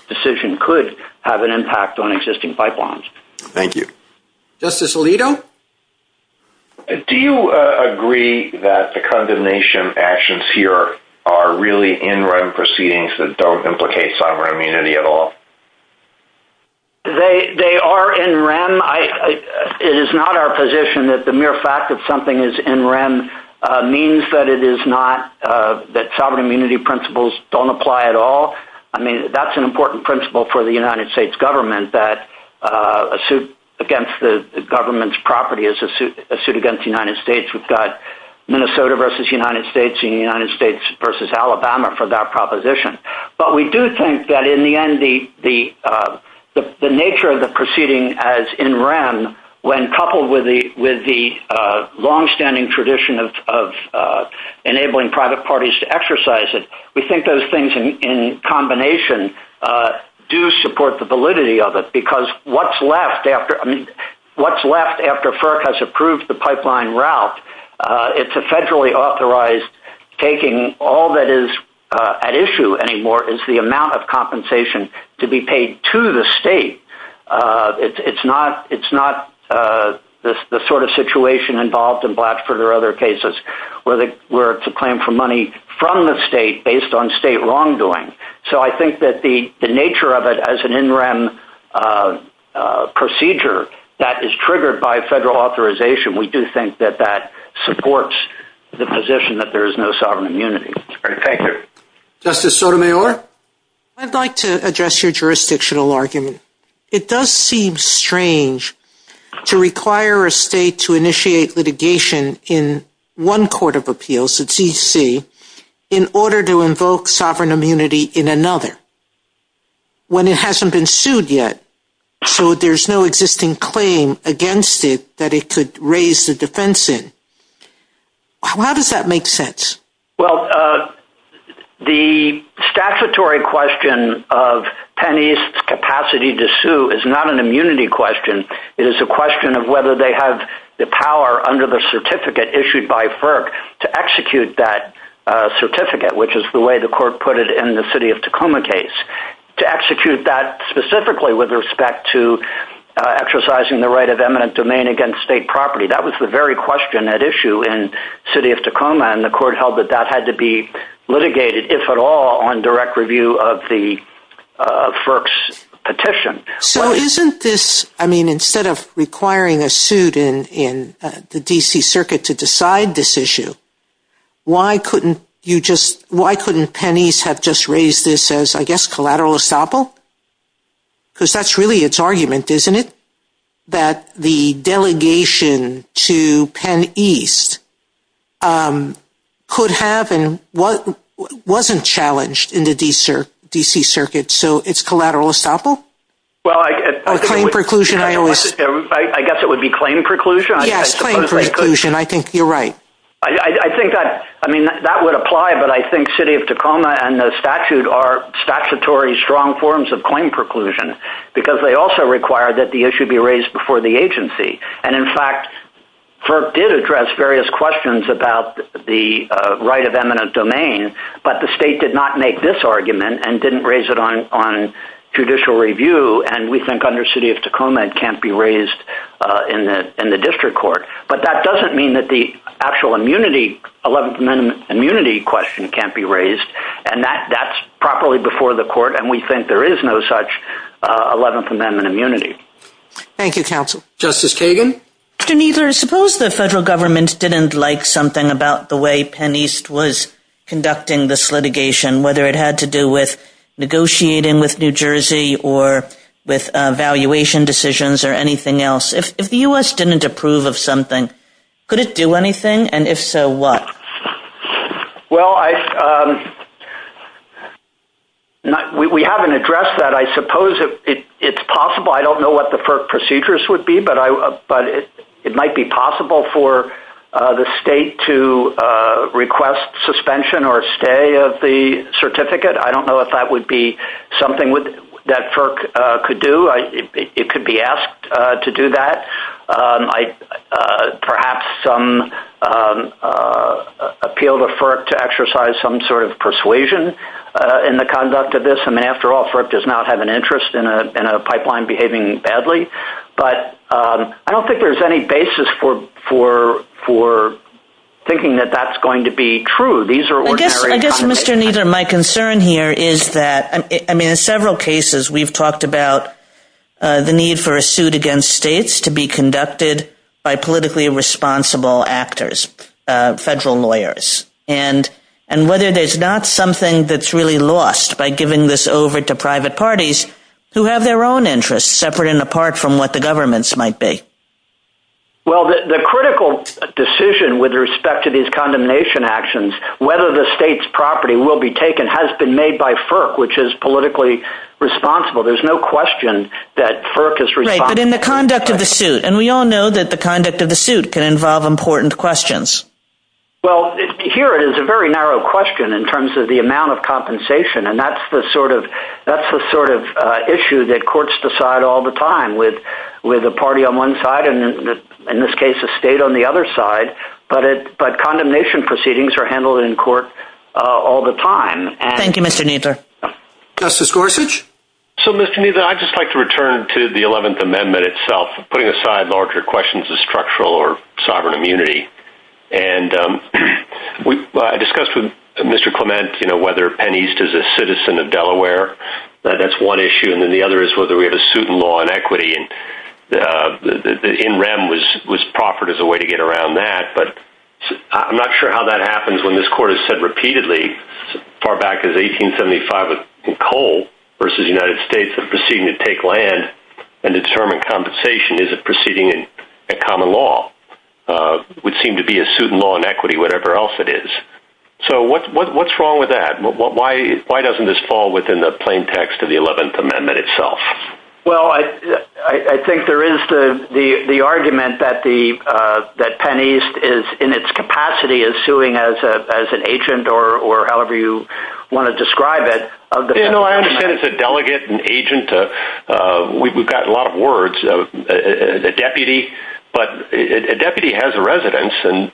decision could have an impact on existing pipelines. Thank you. Justice Alito? Do you agree that the condemnation actions here are really in-rem proceedings that don't implicate sovereign immunity at all? They are in-rem. It is not our position that the mere fact that something is in-rem means that it is not – that sovereign immunity principles don't apply at all. I mean, that's an important principle for the United States government, that a suit against the government's property is a suit against the United States. We've got Minnesota versus United States and the United States versus Alabama for that proposition. But we do think that in the end, the nature of the proceeding as in-rem, when coupled with the longstanding tradition of enabling private parties to exercise it, we think those things in combination do support the validity of it, because what's left after FERC has approved the pipeline route, it's a federally authorized taking. All that is at issue anymore is the amount of compensation to be paid to the state. It's not the sort of situation involved in Blatchford or other cases where it's a claim for money from the state based on state wrongdoing. So I think that the nature of it as an in-rem procedure that is triggered by federal authorization, we do think that that supports the position that there is no sovereign immunity. Thank you. Justice Sotomayor? I'd like to address your jurisdictional argument. It does seem strange to require a state to initiate litigation in one court of appeals, the D.C., in order to invoke sovereign immunity in another when it hasn't been sued yet, so there's no existing claim against it that it could raise the defense in. How does that make sense? Well, the statutory question of Penn East's capacity to sue is not an immunity question. It is a question of whether they have the power under the certificate issued by FERC to execute that certificate, which is the way the court put it in the City of Tacoma case, to execute that specifically with respect to exercising the right of eminent domain against state property. That was the very question at issue in City of Tacoma, and the court held that that had to be litigated, if at all, on direct review of the FERC's petition. So isn't this, I mean, instead of requiring a suit in the D.C. Circuit to decide this issue, why couldn't you just, why couldn't Penn East have just raised this as, I guess, collateral estoppel? Because that's really its argument, isn't it? That the delegation to Penn East could have and wasn't challenged in the D.C. Circuit, so it's collateral estoppel? I guess it would be claim preclusion. Yes, claim preclusion. I think you're right. I think that, I mean, that would apply, but I think City of Tacoma and the statute are statutory strong forms of claim preclusion, because they also require that the issue be raised before the agency. And, in fact, FERC did address various questions about the right of eminent domain, but the state did not make this argument and didn't raise it on judicial review, and we think under City of Tacoma it can't be raised in the district court. But that doesn't mean that the actual immunity, 11th Amendment immunity question can't be raised, and that's properly before the court, and we think there is no such 11th Amendment immunity. Thank you, counsel. Justice Kagan? Mr. Kneedler, suppose the federal government didn't like something about the way Penn East was conducting this litigation, whether it had to do with negotiating with New Jersey or with valuation decisions or anything else. If the U.S. didn't approve of something, could it do anything, and if so, what? Well, we haven't addressed that. I suppose it's possible. I don't know what the FERC procedures would be, but it might be possible for the state to request suspension or a stay of the certificate. I don't know if that would be something that FERC could do. It could be asked to do that. Perhaps some appeal to FERC to exercise some sort of persuasion in the conduct of this, and after all, FERC does not have an interest in a pipeline behaving badly. But I don't think there's any basis for thinking that that's going to be true. These are ordinary conversations. Well, Mr. Kneedler, my concern here is that in several cases we've talked about the need for a suit against states to be conducted by politically responsible actors, federal lawyers, and whether there's not something that's really lost by giving this over to private parties who have their own interests separate and apart from what the governments might be. Well, the critical decision with respect to these condemnation actions, whether the state's property will be taken has been made by FERC, which is politically responsible. There's no question that FERC is responsible. Right, but in the conduct of the suit, and we all know that the conduct of the suit can involve important questions. Well, here it is a very narrow question in terms of the amount of compensation, and that's the sort of issue that courts decide all the time with a party on one side and in this case a state on the other side, but condemnation proceedings are handled in court all the time. Thank you, Mr. Kneedler. Justice Gorsuch? So, Mr. Kneedler, I'd just like to return to the 11th Amendment itself, putting aside larger questions of structural or sovereign immunity. And I discussed with Mr. Clement whether Penn East is a citizen of Delaware, that's one issue, and then the other is whether we have a suit in law on equity. And the NREM was proffered as a way to get around that, but I'm not sure how that happens when this court has said repeatedly, as far back as 1875 in Cole versus the United States, that proceeding would take land and determine compensation is a proceeding in common law, would seem to be a suit in law on equity, whatever else it is. So, what's wrong with that? Why doesn't this fall within the plain text of the 11th Amendment itself? Well, I think there is the argument that Penn East is, in its capacity, is suing as an agent or however you want to describe it. You know, I understand it's a delegate, an agent, we've got a lot of words, a deputy, but a deputy has a residence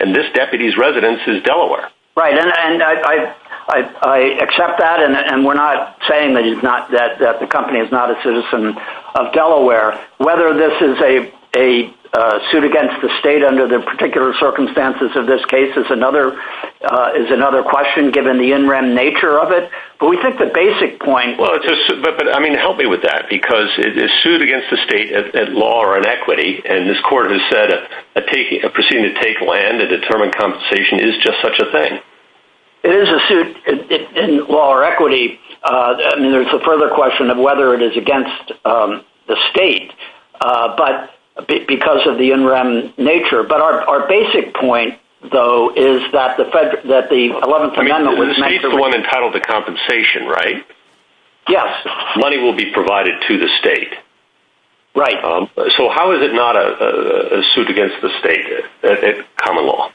and this deputy's residence is Delaware. Right, and I accept that, and we're not saying that the company is not a citizen of Delaware. Whether this is a suit against the state under the particular circumstances of this case is another question, given the NREM nature of it, but we think the basic point— Well, I mean, help me with that, because it is sued against the state in law or on equity, and this court has said a proceeding to take land, a determined compensation, is just such a thing. It is a suit in law or equity. I mean, there's a further question of whether it is against the state because of the NREM nature, but our basic point, though, is that the 11th Amendment— The state is the one that titled the compensation, right? Yes. Money will be provided to the state. Right. So how is it not a suit against the state in common law?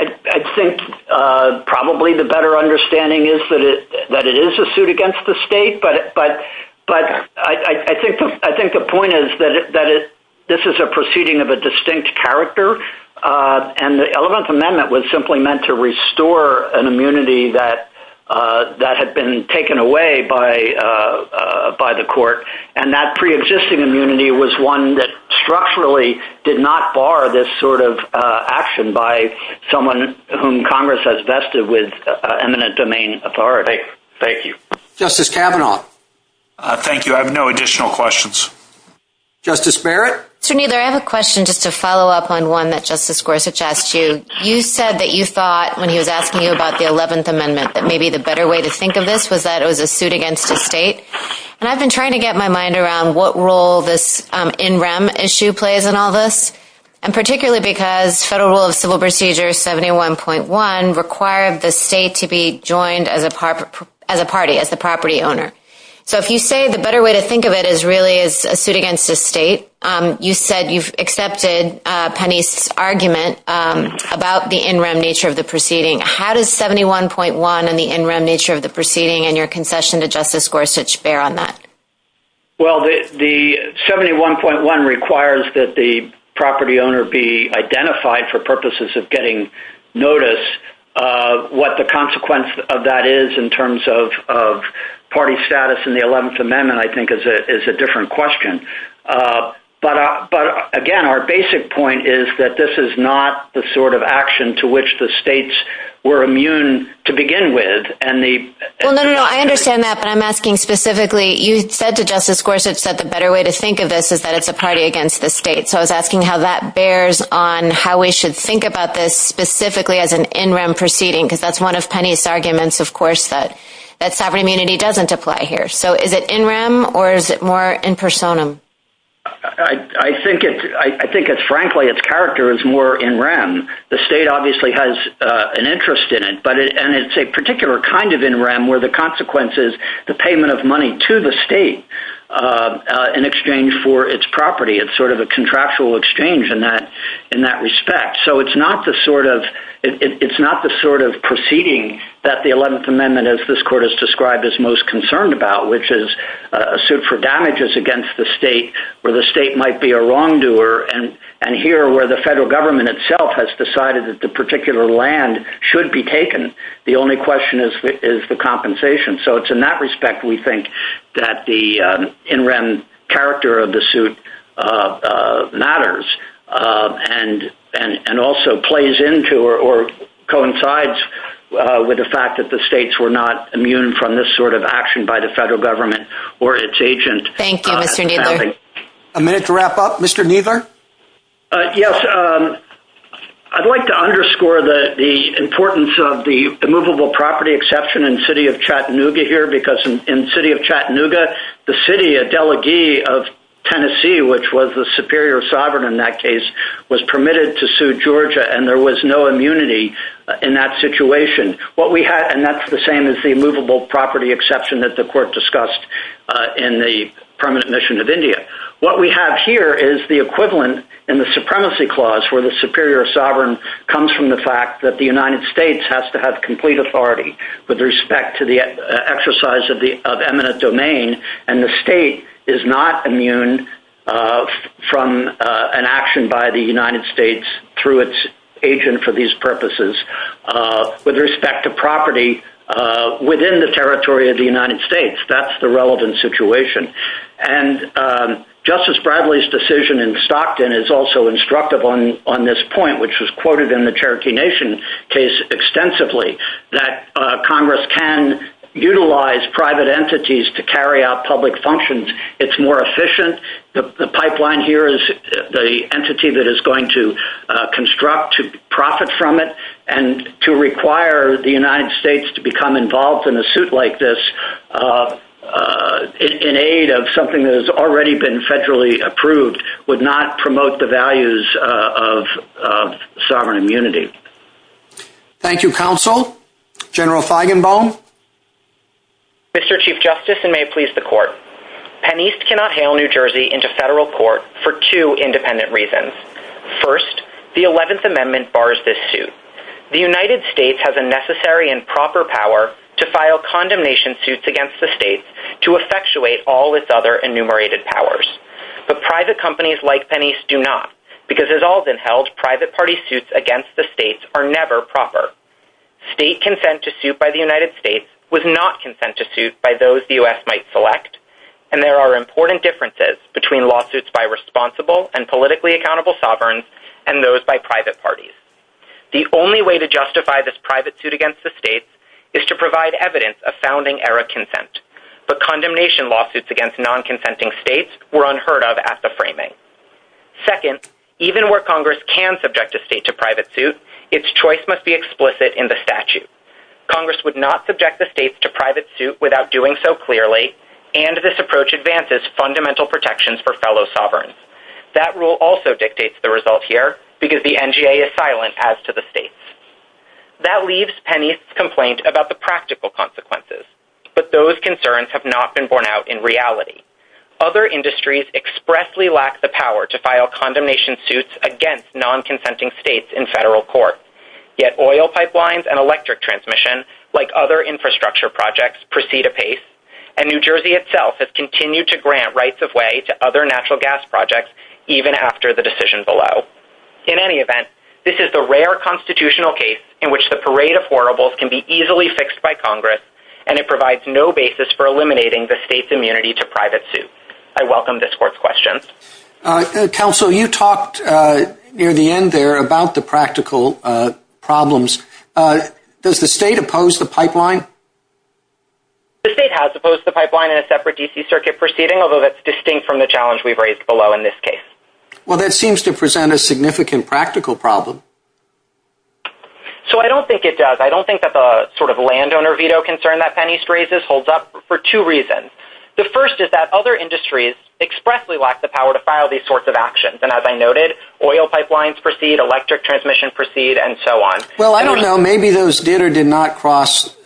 I think probably the better understanding is that it is a suit against the state, but I think the point is that this is a proceeding of a distinct character, and the 11th Amendment was simply meant to restore an immunity that had been taken away by the court, and that preexisting immunity was one that structurally did not bar this sort of action by someone whom Congress has vested with eminent domain authority. Thank you. Justice Kavanaugh. Thank you. I have no additional questions. Justice Barrett. Jimmy, I have a question just to follow up on one that Justice Gorsuch asked you. You said that you thought, when he was asking you about the 11th Amendment, that maybe the better way to think of this was that it was a suit against the state, and I've been trying to get my mind around what role this in rem issue plays in all this, and particularly because Federal Rule of Civil Procedure 71.1 required the state to be joined as a party, as a property owner. So if you say the better way to think of it is really a suit against the state, you said you've accepted Penny's argument about the in rem nature of the proceeding. How does 71.1 and the in rem nature of the proceeding and your concession to Justice Gorsuch bear on that? Well, the 71.1 requires that the property owner be identified for purposes of getting notice. What the consequence of that is in terms of party status in the 11th Amendment, I think, is a different question. But, again, our basic point is that this is not the sort of action to which the states were immune to begin with. Well, no, no, no, I understand that, but I'm asking specifically, you said to Justice Gorsuch that the better way to think of this is that it's a party against the state. So I was asking how that bears on how we should think about this specifically as an in rem proceeding, because that's one of Penny's arguments, of course, that sovereign immunity doesn't apply here. So is it in rem or is it more in personam? I think, frankly, its character is more in rem. The state obviously has an interest in it, and it's a particular kind of in rem where the consequence is the payment of money to the state in exchange for its property. It's sort of a contractual exchange in that respect. So it's not the sort of proceeding that the 11th Amendment, as this court has described, is most concerned about, which is a suit for damages against the state where the state might be a wrongdoer. And here, where the federal government itself has decided that the particular land should be taken, the only question is the compensation. So it's in that respect, we think, that the in rem character of the suit matters. And also plays into or coincides with the fact that the states were not immune from this sort of action by the federal government or its agent. Thank you, Mr. Nicholson. A minute to wrap up. Mr. Niegar? Yes. I'd like to underscore the importance of the immovable property exception in the city of Chattanooga here, because in the city of Chattanooga, the city, a delegee of Tennessee, which was the superior sovereign in that case, was permitted to sue Georgia, and there was no immunity in that situation. And that's the same as the immovable property exception that the court discussed in the permanent mission of India. What we have here is the equivalent in the supremacy clause, where the superior sovereign comes from the fact that the United States has to have complete authority with respect to the exercise of eminent domain, and the state is not immune from an action by the United States through its agent for these purposes, with respect to property within the territory of the United States. That's the relevant situation. And Justice Bradley's decision in Stockton is also instructive on this point, which was quoted in the Cherokee Nation case extensively, that Congress can utilize private entities to carry out public functions. It's more efficient. The pipeline here is the entity that is going to construct to profit from it And to require the United States to become involved in a suit like this in aid of something that has already been federally approved would not promote the values of sovereign immunity. Thank you, Counsel. General Feigenbaum? Mr. Chief Justice, and may it please the Court, PennEast cannot hail New Jersey into federal court for two independent reasons. First, the 11th Amendment bars this suit. The United States has a necessary and proper power to file condemnation suits against the state to effectuate all its other enumerated powers. But private companies like PennEast do not, because, as Alden held, private party suits against the states are never proper. State consent to suit by the United States was not consent to suit by those the U.S. might select. And there are important differences between lawsuits by responsible and politically accountable sovereigns and those by private parties. The only way to justify this private suit against the states is to provide evidence of founding-era consent. But condemnation lawsuits against non-consenting states were unheard of at the framing. Second, even where Congress can subject a state to private suit, its choice must be explicit in the statute. Congress would not subject the states to private suit without doing so clearly and this approach advances fundamental protections for fellow sovereigns. That rule also dictates the result here, because the NGA is silent as to the states. That leaves PennEast's complaint about the practical consequences. But those concerns have not been borne out in reality. Other industries expressly lack the power to file condemnation suits against non-consenting states in federal court. Yet oil pipelines and electric transmission, like other infrastructure projects, proceed apace. And New Jersey itself has continued to grant rights-of-way to other natural gas projects even after the decision below. In any event, this is the rare constitutional case in which the parade of horribles can be easily fixed by Congress and it provides no basis for eliminating the state's immunity to private suit. I welcome this court's questions. Counsel, you talked near the end there about the practical problems. Does the state oppose the pipeline? The state has opposed the pipeline in a separate D.C. circuit proceeding, although that's distinct from the challenge we've raised below in this case. Well, that seems to present a significant practical problem. So I don't think it does. I don't think that the sort of landowner veto concern that PennEast raises holds up for two reasons. The first is that other industries expressly lack the power to file these sorts of actions. And as I noted, oil pipelines proceed, electric transmission proceed, and so on. Well, I don't know. Maybe those did or did not cross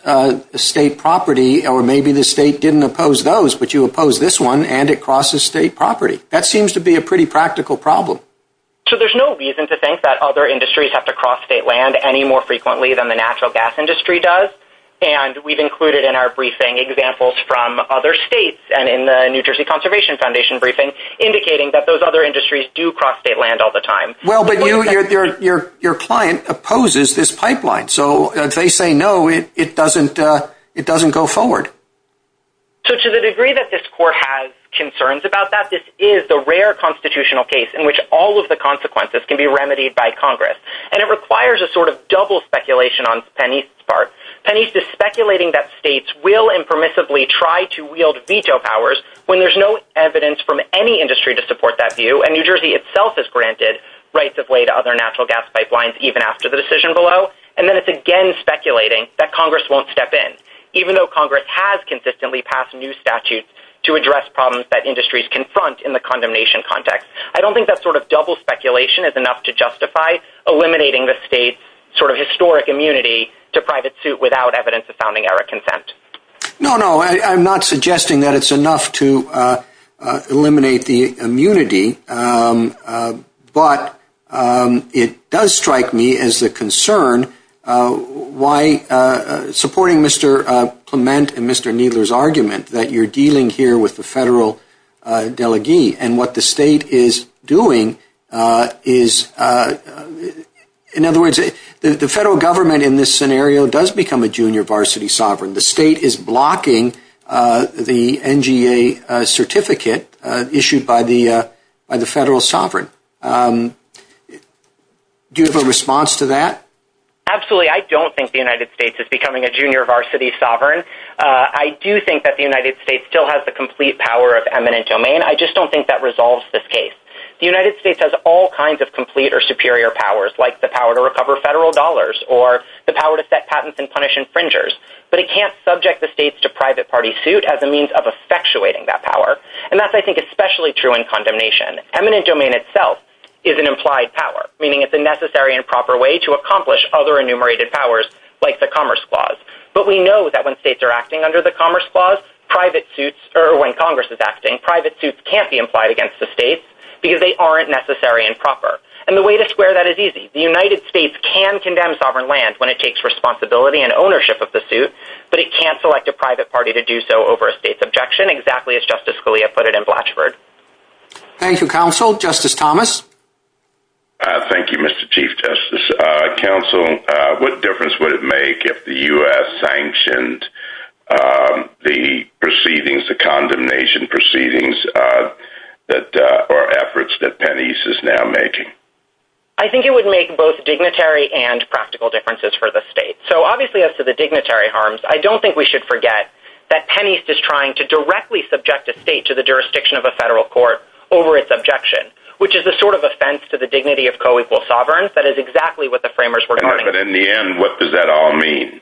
state property, or maybe the state didn't oppose those, but you oppose this one and it crosses state property. That seems to be a pretty practical problem. So there's no reason to think that other industries have to cross state land any more frequently than the natural gas industry does. And we've included in our briefing examples from other states and in the New Jersey Conservation Foundation briefing indicating that those other industries do cross state land all the time. Well, but your client opposes this pipeline. So if they say no, it doesn't go forward. So to the degree that this court has concerns about that, this is the rare constitutional case in which all of the consequences can be remedied by Congress. And it requires a sort of double speculation on PennEast's part. PennEast is speculating that states will impermissibly try to wield veto powers when there's no evidence from any industry to support that view, and New Jersey itself has granted rights of way to other natural gas pipelines even after the decision below. And then it's again speculating that Congress won't step in, even though Congress has consistently passed new statutes to address problems that industries confront in the condemnation context. I don't think that sort of double speculation is enough to justify eliminating the state's sort of historic immunity to private suit without evidence of founding-era consent. No, no, I'm not suggesting that it's enough to eliminate the immunity. But it does strike me as a concern why supporting Mr. Clement and Mr. Kneedler's argument that you're dealing here with the federal delegee and what the state is doing is, in other words, the federal government in this scenario does become a junior varsity sovereign. The state is blocking the NGA certificate issued by the federal sovereign. Do you have a response to that? Absolutely. I don't think the United States is becoming a junior varsity sovereign. I do think that the United States still has the complete power of eminent domain. I just don't think that resolves this case. The United States has all kinds of complete or superior powers, like the power to recover federal dollars or the power to set patents and punish infringers. But it can't subject the states to private party suit as a means of effectuating that power. And that's, I think, especially true in condemnation. Eminent domain itself is an implied power, meaning it's a necessary and proper way to accomplish other enumerated powers, like the Commerce Clause. But we know that when states are acting under the Commerce Clause, private suits, or when Congress is acting, private suits can't be implied against the states because they aren't necessary and proper. And the way to square that is easy. The United States can condemn sovereign land when it takes responsibility and ownership of the suit, but it can't select a private party to do so over a state's objection, exactly as Justice Scalia put it in Blatchford. Thank you, Counsel. Justice Thomas? Thank you, Mr. Chief Justice. Counsel, what difference would it make if the U.S. sanctioned the proceedings, the condemnation proceedings or efforts that Penney's is now making? I think it would make both dignitary and practical differences for the state. So, obviously, as to the dignitary harms, I don't think we should forget that Penney's is trying to directly subject a state to the jurisdiction of a federal court over its objection, which is a sort of offense to the dignity of co-equal sovereigns. That is exactly what the framers were talking about. But in the end, what does that all mean?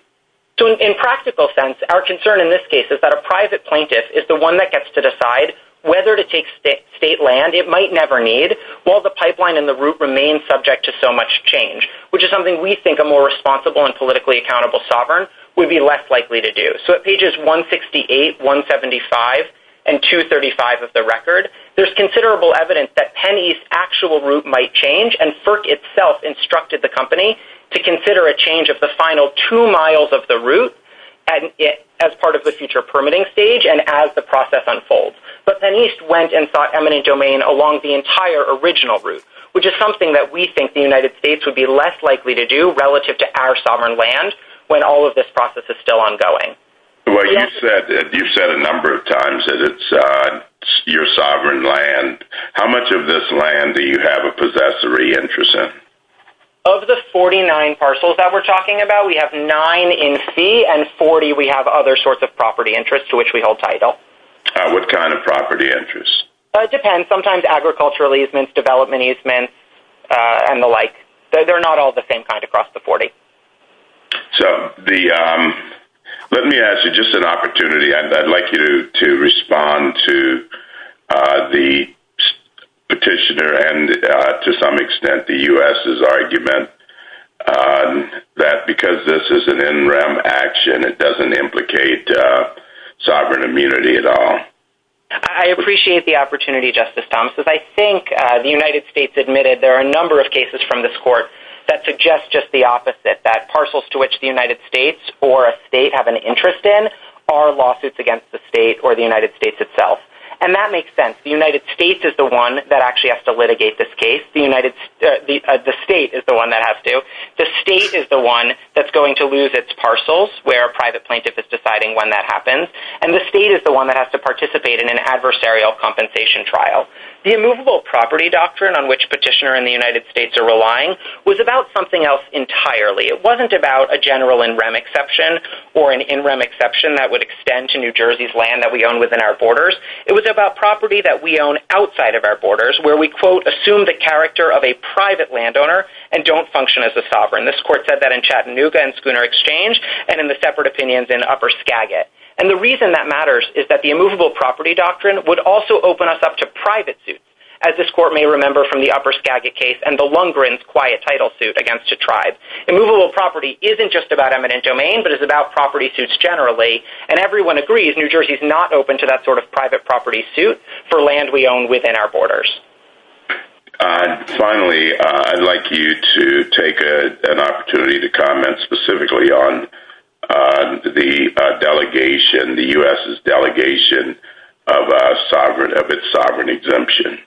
So, in practical sense, our concern in this case is that a private plaintiff is the one that gets to decide whether to take state land it might never need, while the pipeline and the route remain subject to so much change, which is something we think a more responsible and politically accountable sovereign would be less likely to do. So, at pages 168, 175, and 235 of the record, there's considerable evidence that Penney's actual route might change. And FERC itself instructed the company to consider a change of the final two miles of the route as part of the future permitting stage and as the process unfolds. But Penney's went and sought eminent domain along the entire original route, which is something that we think the United States would be less likely to do relative to our sovereign land when all of this process is still ongoing. Well, you've said a number of times that it's your sovereign land. How much of this land do you have a possessory interest in? Of the 49 parcels that we're talking about, we have 9 in C, and 40 we have other sorts of property interests to which we hold title. What kind of property interests? It depends. Sometimes agricultural easements, development easements, and the like. So they're not all the same kind across the 40. So let me ask you just an opportunity. I'd like you to respond to the petitioner and, to some extent, the U.S.'s argument that because this is an NREM action, it doesn't implicate sovereign immunity at all. I appreciate the opportunity, Justice Thomas. I think the United States admitted there are a number of cases from this court that suggest just the opposite, that parcels to which the United States or a state have an interest in are lawsuits against the state or the United States itself. And that makes sense. The United States is the one that actually has to litigate this case. The state is the one that has to. The state is the one that's going to lose its parcels, where a private plaintiff is deciding when that happens. And the state is the one that has to participate in an adversarial compensation trial. The immovable property doctrine on which petitioner and the United States are relying was about something else entirely. It wasn't about a general NREM exception or an NREM exception that would extend to New Jersey's land that we own within our borders. It was about property that we own outside of our borders, where we, quote, assume the character of a private landowner and don't function as a sovereign. This court said that in Chattanooga and Schooner Exchange and in the separate opinions in Upper Skagit. And the reason that matters is that the immovable property doctrine would also open us up to private suits, as this court may remember from the Upper Skagit case and the Lundgren's quiet title suit against a tribe. Immovable property isn't just about eminent domain, but it's about property suits generally. And everyone agrees New Jersey's not open to that sort of private property suit for land we own within our borders. Finally, I'd like you to take an opportunity to comment specifically on the delegation, the U.S.'s delegation of its sovereign exemption.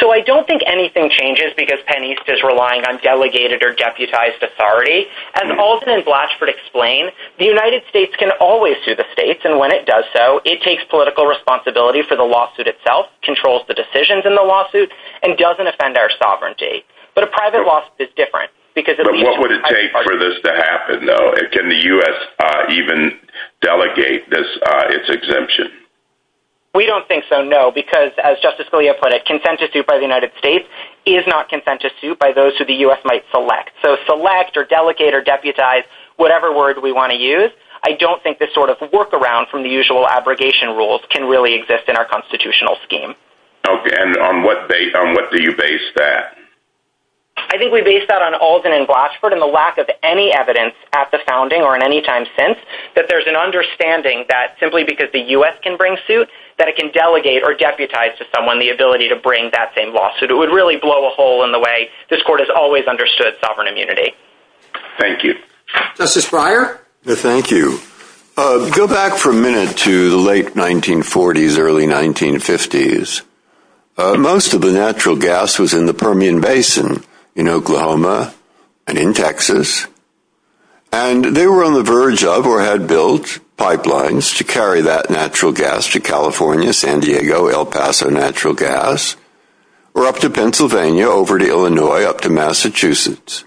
So I don't think anything changes because Penn East is relying on delegated or deputized authority. As Alton and Blatchford explain, the United States can always sue the states, and when it does so, it takes political responsibility for the lawsuit itself, controls the decisions in the lawsuit, and doesn't offend our sovereignty. But a private lawsuit is different. What would it take for this to happen, though? Can the U.S. even delegate its exemption? We don't think so, no, because as Justice Scalia put it, consent to suit by the United States is not consent to suit by those who the U.S. might select. So select or delegate or deputize, whatever word we want to use, I don't think this sort of workaround from the usual abrogation rules can really exist in our constitutional scheme. Okay, and on what do you base that? I think we base that on Alton and Blatchford and the lack of any evidence at the founding or in any time since that there's an understanding that simply because the U.S. can bring suit that it can delegate or deputize to someone the ability to bring that same lawsuit. It would really blow a hole in the way this Court has always understood sovereign immunity. Thank you. Justice Breyer? Thank you. Go back for a minute to the late 1940s, early 1950s. Most of the natural gas was in the Permian Basin in Oklahoma and in Texas, and they were on the verge of or had built pipelines to carry that natural gas to California, San Diego, El Paso natural gas, or up to Pennsylvania, over to Illinois, up to Massachusetts.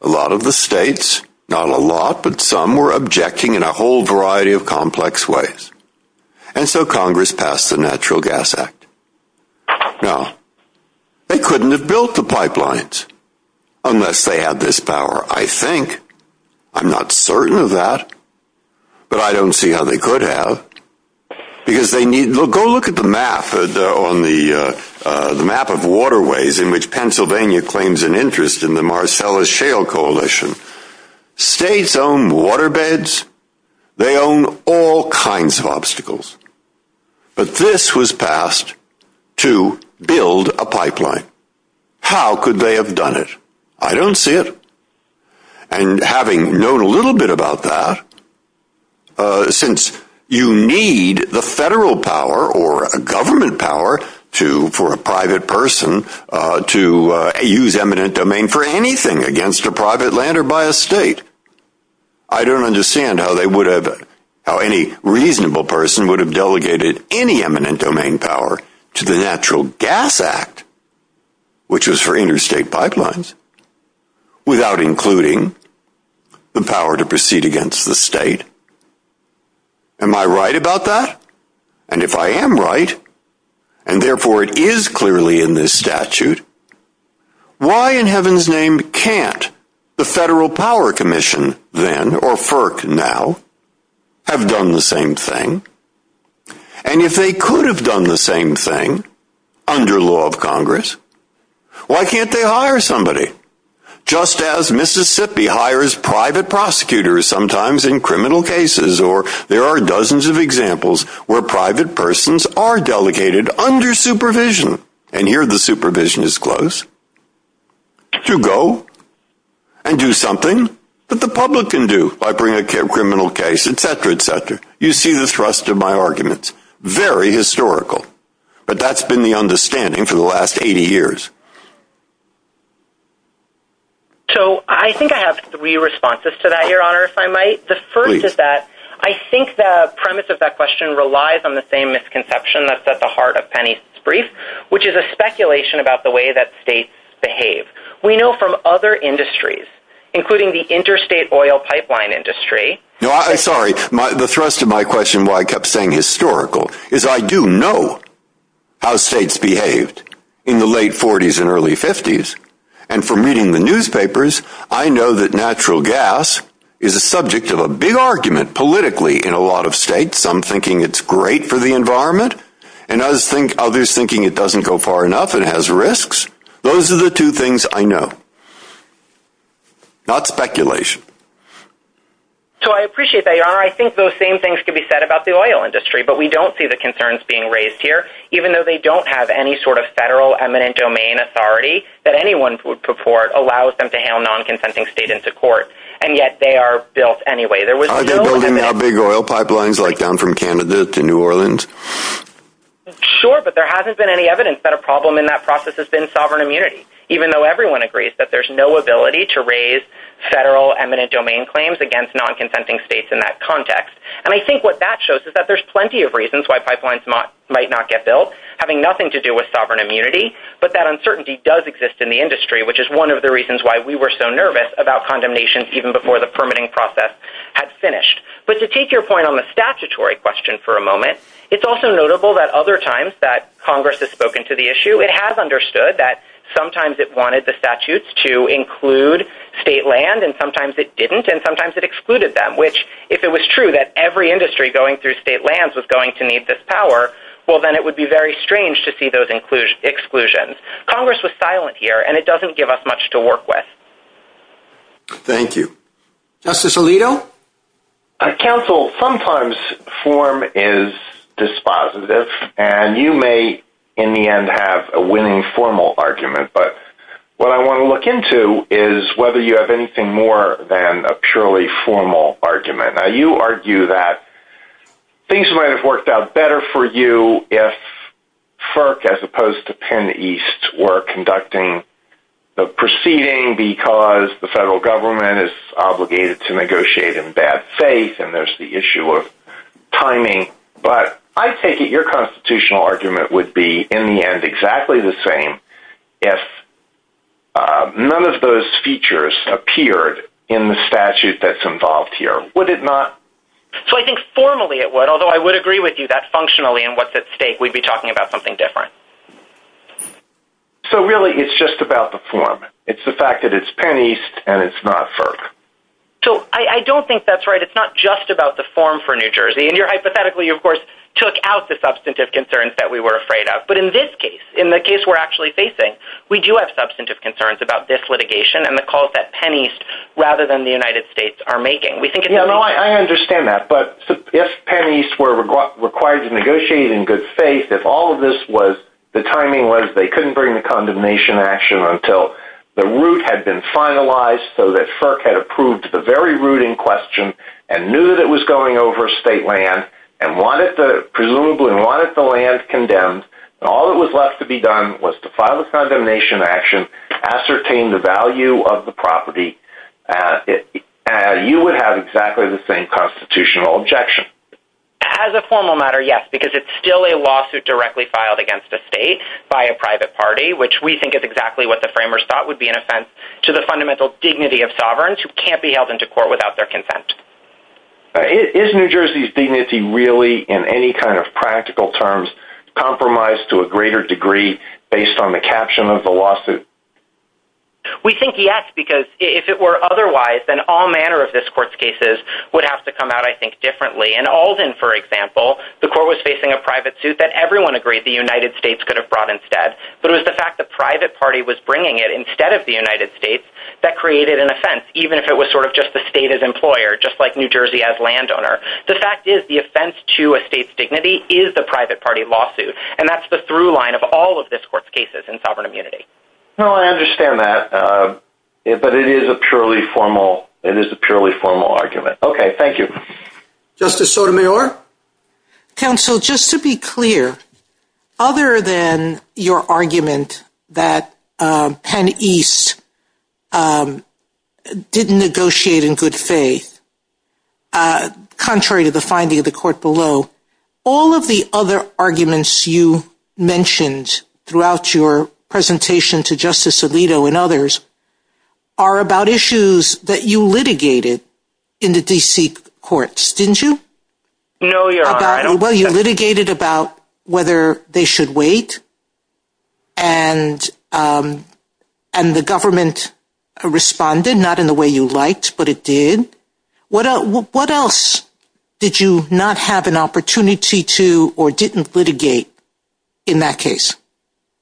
A lot of the states, not a lot, but some were objecting in a whole variety of complex ways, and so Congress passed the Natural Gas Act. Now, they couldn't have built the pipelines unless they had this power, I think. I'm not certain of that, but I don't see how they could have because they need to go look at the map on the map of waterways in which Pennsylvania claims an interest in the Marcellus Shale Coalition. States own waterbeds. They own all kinds of obstacles. But this was passed to build a pipeline. How could they have done it? I don't see it. And having known a little bit about that, since you need the federal power or a government power for a private person to use eminent domain for anything against a private land or by a state, I don't understand how they would have, how any reasonable person would have delegated any eminent domain power to the Natural Gas Act, which was for interstate pipelines, without including the power to proceed against the state. Am I right about that? And if I am right, and therefore it is clearly in this statute, why in heaven's name can't the Federal Power Commission then, or FERC now, have done the same thing? And if they could have done the same thing under law of Congress, why can't they hire somebody? Just as Mississippi hires private prosecutors sometimes in criminal cases, or there are dozens of examples where private persons are delegated under supervision, and here the supervision is close, to go and do something that the public can do by bringing a criminal case, etc., etc. You see the thrust of my arguments. Very historical. But that's been the understanding for the last 80 years. So I think I have three responses to that, Your Honor, if I might. Please. The first is that I think the premise of that question relies on the same misconception that's at the heart of Penny's brief, which is a speculation about the way that states behave. We know from other industries, including the interstate oil pipeline industry. No, I'm sorry. The thrust of my question, why I kept saying historical, is I do know how states behaved in the late 40s and early 50s. And from reading the newspapers, I know that natural gas is a subject of a big argument politically in a lot of states, some thinking it's great for the environment, and others thinking it doesn't go far enough and has risks. Those are the two things I know. Not speculation. So I appreciate that, Your Honor. I think those same things could be said about the oil industry, but we don't see the concerns being raised here, even though they don't have any sort of federal eminent domain authority that anyone would purport allows them to hail non-consenting states into court. And yet they are built anyway. Are they building big oil pipelines, like down from Canada to New Orleans? Sure, but there hasn't been any evidence that a problem in that process has been sovereign immunity, even though everyone agrees that there's no ability to raise federal eminent domain claims against non-consenting states in that context. And I think what that shows is that there's plenty of reasons why pipelines might not get built, having nothing to do with sovereign immunity, but that uncertainty does exist in the industry, which is one of the reasons why we were so nervous about condemnations even before the permitting process had finished. But to take your point on the statutory question for a moment, it's also notable that other Congress has spoken to the issue. It has understood that sometimes it wanted the statutes to include state land, and sometimes it didn't, and sometimes it excluded them, which, if it was true that every industry going through state lands was going to need this power, well, then it would be very strange to see those exclusions. Congress was silent here, and it doesn't give us much to work with. Thank you. Justice Alito? Counsel, sometimes form is dispositive, and you may, in the end, have a winning formal argument, but what I want to look into is whether you have anything more than a purely formal argument. Now, you argue that things might have worked out better for you if FERC, as opposed to Penn East, were conducting the proceeding because the federal government is obligated to negotiate in bad faith, and there's the issue of timing, but I'm thinking your constitutional argument would be, in the end, exactly the same if none of those features appeared in the statute that's involved here. Would it not? So I think formally it would, although I would agree with you that functionally in what's at stake, we'd be talking about something different. So really, it's just about the form. It's the fact that it's Penn East, and it's not FERC. So I don't think that's right. It's not just about the form for New Jersey. And you're hypothetically, of course, took out the substantive concerns that we were afraid of. But in this case, in the case we're actually facing, we do have substantive concerns about this litigation and the calls that Penn East, rather than the United States, are making. I understand that, but if Penn East were required to negotiate in good faith, if all of this was, the timing was they couldn't bring a condemnation action until the root had been finalized so that FERC had approved the very root in question, and knew that it was going over state land, and presumably wanted the land condemned, and all that was left to be done was to file a condemnation action, ascertain the value of the property, you would have exactly the same constitutional objection. As a formal matter, yes, because it's still a lawsuit directly filed against the state by a private party, which we think is exactly what the framers thought would be an offense to the fundamental dignity of sovereigns who can't be held into court without their consent. Is New Jersey's dignity really, in any kind of practical terms, compromised to a greater degree based on the caption of the lawsuit? We think yes, because if it were otherwise, then all manner of this court's cases would have to come out, I think, differently. In Alden, for example, the court was facing a private suit that everyone agreed the United States could have brought instead. But it was the fact that private party was bringing it instead of the United States that created an offense, even if it was sort of just the state as employer, just like New Jersey as landowner. The fact is, the offense to a state's dignity is the private party lawsuit, and that's the through line of all of this court's cases in sovereign immunity. Well, I understand that, but it is a purely formal argument. Okay, thank you. Justice Sotomayor? Counsel, just to be clear, other than your argument that Penn East didn't negotiate in good faith, contrary to the finding of the court below, all of the other arguments you mentioned throughout your presentation to Justice Alito and others are about issues that you litigated in the D.C. courts, didn't you? No, Your Honor. Well, you litigated about whether they should wait, and the government responded, not in the way you liked, but it did. What else did you not have an opportunity to or didn't litigate in that case?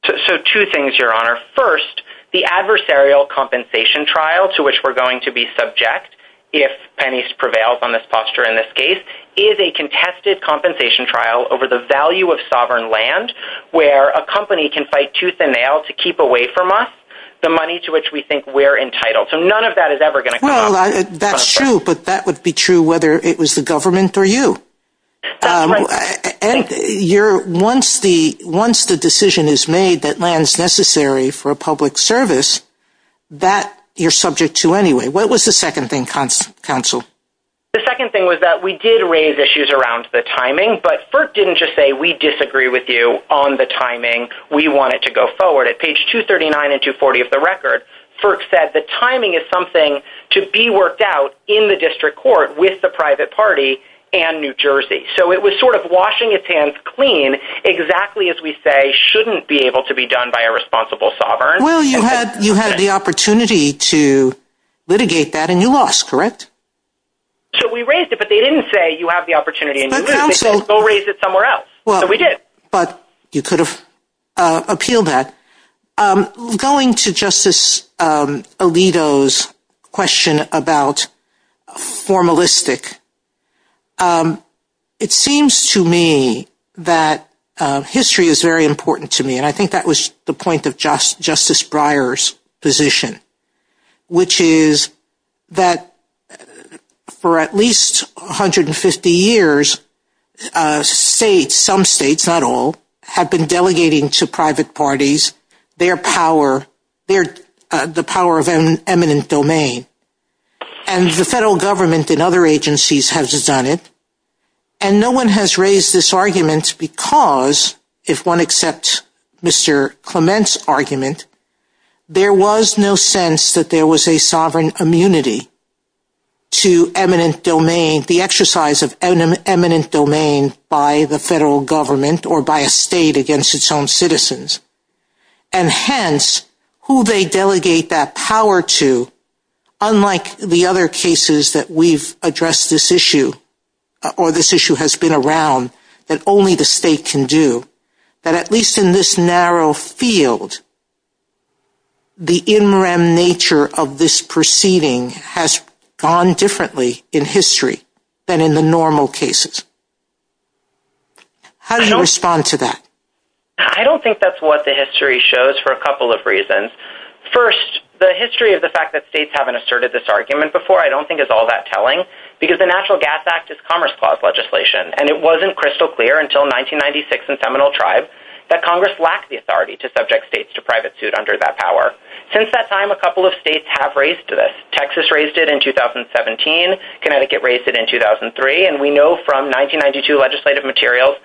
So, two things, Your Honor. First, the adversarial compensation trial, to which we're going to be subject if Penn East has a tested compensation trial over the value of sovereign land, where a company can fight tooth and nail to keep away from us the money to which we think we're entitled. So, none of that is ever going to come up. Well, that's true, but that would be true whether it was the government or you. And once the decision is made that land's necessary for a public service, that you're What was the second thing, Counsel? The second thing was that we did raise issues around the timing, but Firk didn't just say we disagree with you on the timing. We want it to go forward. At page 239 and 240 of the record, Firk said the timing is something to be worked out in the district court with the private party and New Jersey. So, it was sort of washing its hands clean, exactly as we say shouldn't be able to be done by a responsible sovereign. Well, you had the opportunity to litigate that, and you lost, correct? So, we raised it, but they didn't say you have the opportunity and you lose it. They said we'll raise it somewhere else. So, we did. But you could have appealed that. Going to Justice Alito's question about formalistic, it seems to me that history is very important to me. And I think that was the point of Justice Breyer's position, which is that for at least 150 years, states, some states, not all, have been delegating to private parties their power, the power of an eminent domain. And the federal government and other agencies has done it. And no one has raised this argument because, if one accepts Mr. Clement's argument, there was no sense that there was a sovereign immunity to eminent domain, the exercise of eminent domain by the federal government or by a state against its own citizens. And hence, who they delegate that power to, unlike the other cases that we've addressed this issue or this issue has been around that only the state can do. But at least in this narrow field, the in-rem nature of this proceeding has gone differently in history than in the normal cases. How do you respond to that? I don't think that's what the history shows for a couple of reasons. First, the history of the fact that states haven't asserted this argument before, I don't think is all that telling because the National Gas Act is Commerce Clause legislation. And it wasn't crystal clear until 1996 in Seminole Tribe that Congress lacked the authority to subject states to private suit under that power. Since that time, a couple of states have raised this. Texas raised it in 2017. Connecticut raised it in 2003. And we know from 1992 legislative materials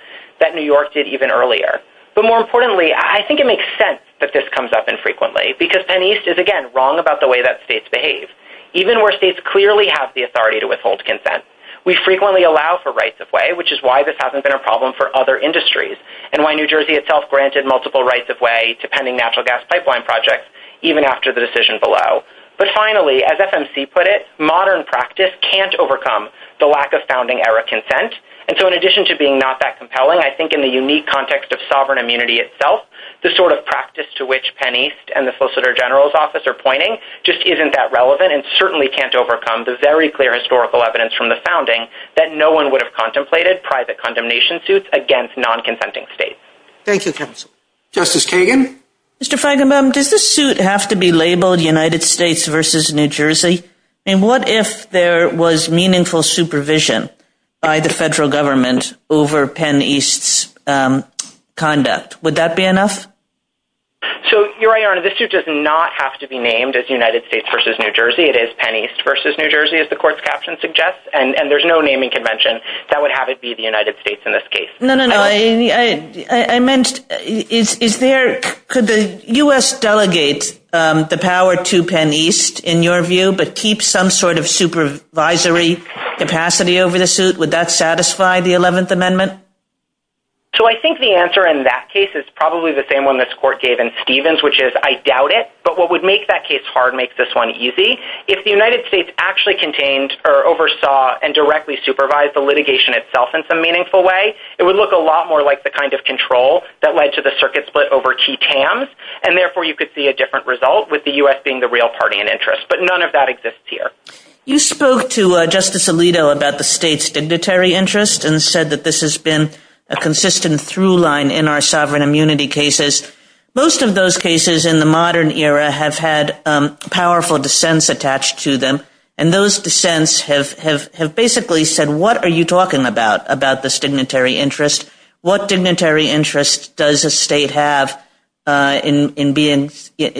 that New York did even earlier. But more importantly, I think it makes sense that this comes up infrequently because Penn East is, again, wrong about the way that states behave. Even where states clearly have the authority to withhold consent. We frequently allow for rights-of-way, which is why this hasn't been a problem for other industries and why New Jersey itself granted multiple rights-of-way to pending natural gas pipeline projects even after the decision below. But finally, as FMC put it, modern practice can't overcome the lack of founding-era consent. And so in addition to being not that compelling, I think in the unique context of sovereign immunity itself, the sort of practice to which Penn East and the Solicitor General's office are pointing just isn't that relevant and certainly can't overcome the very clear historical evidence from the founding that no one would have contemplated private condemnation suits against non-consenting states. Thank you, counsel. Justice Kagan? Mr. Feigenbaum, does this suit have to be labeled United States versus New Jersey? And what if there was meaningful supervision by the federal government over Penn East's conduct? Would that be enough? So, Your Honor, this suit does not have to be named as United States versus New Jersey. It is Penn East versus New Jersey, as the court's caption suggests. And there's no naming convention that would have it be the United States in this case. No, no, no. I meant, could the U.S. delegate the power to Penn East, in your view, but keep some sort of supervisory capacity over the suit? Would that satisfy the 11th Amendment? So I think the answer in that case is probably the same one this court gave in Stevens, which is, I doubt it. But what would make that case hard makes this one easy. If the United States actually contained or oversaw and directly supervised the litigation itself in some meaningful way, it would look a lot more like the kind of control that led to the circuit split over key TAMs. And therefore, you could see a different result with the U.S. being the real party in interest. But none of that exists here. You spoke to Justice Alito about the state's dignitary interest and said that this has been a consistent through line in our sovereign immunity cases. Most of those cases in the modern era have had powerful dissents attached to them. And those dissents have basically said, what are you talking about, about this dignitary interest? What dignitary interest does a state have in being,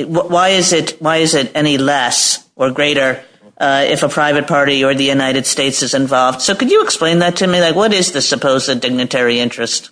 why is it any less or greater if a private party or the United States is involved? So could you explain that to me? What is the supposed dignitary interest?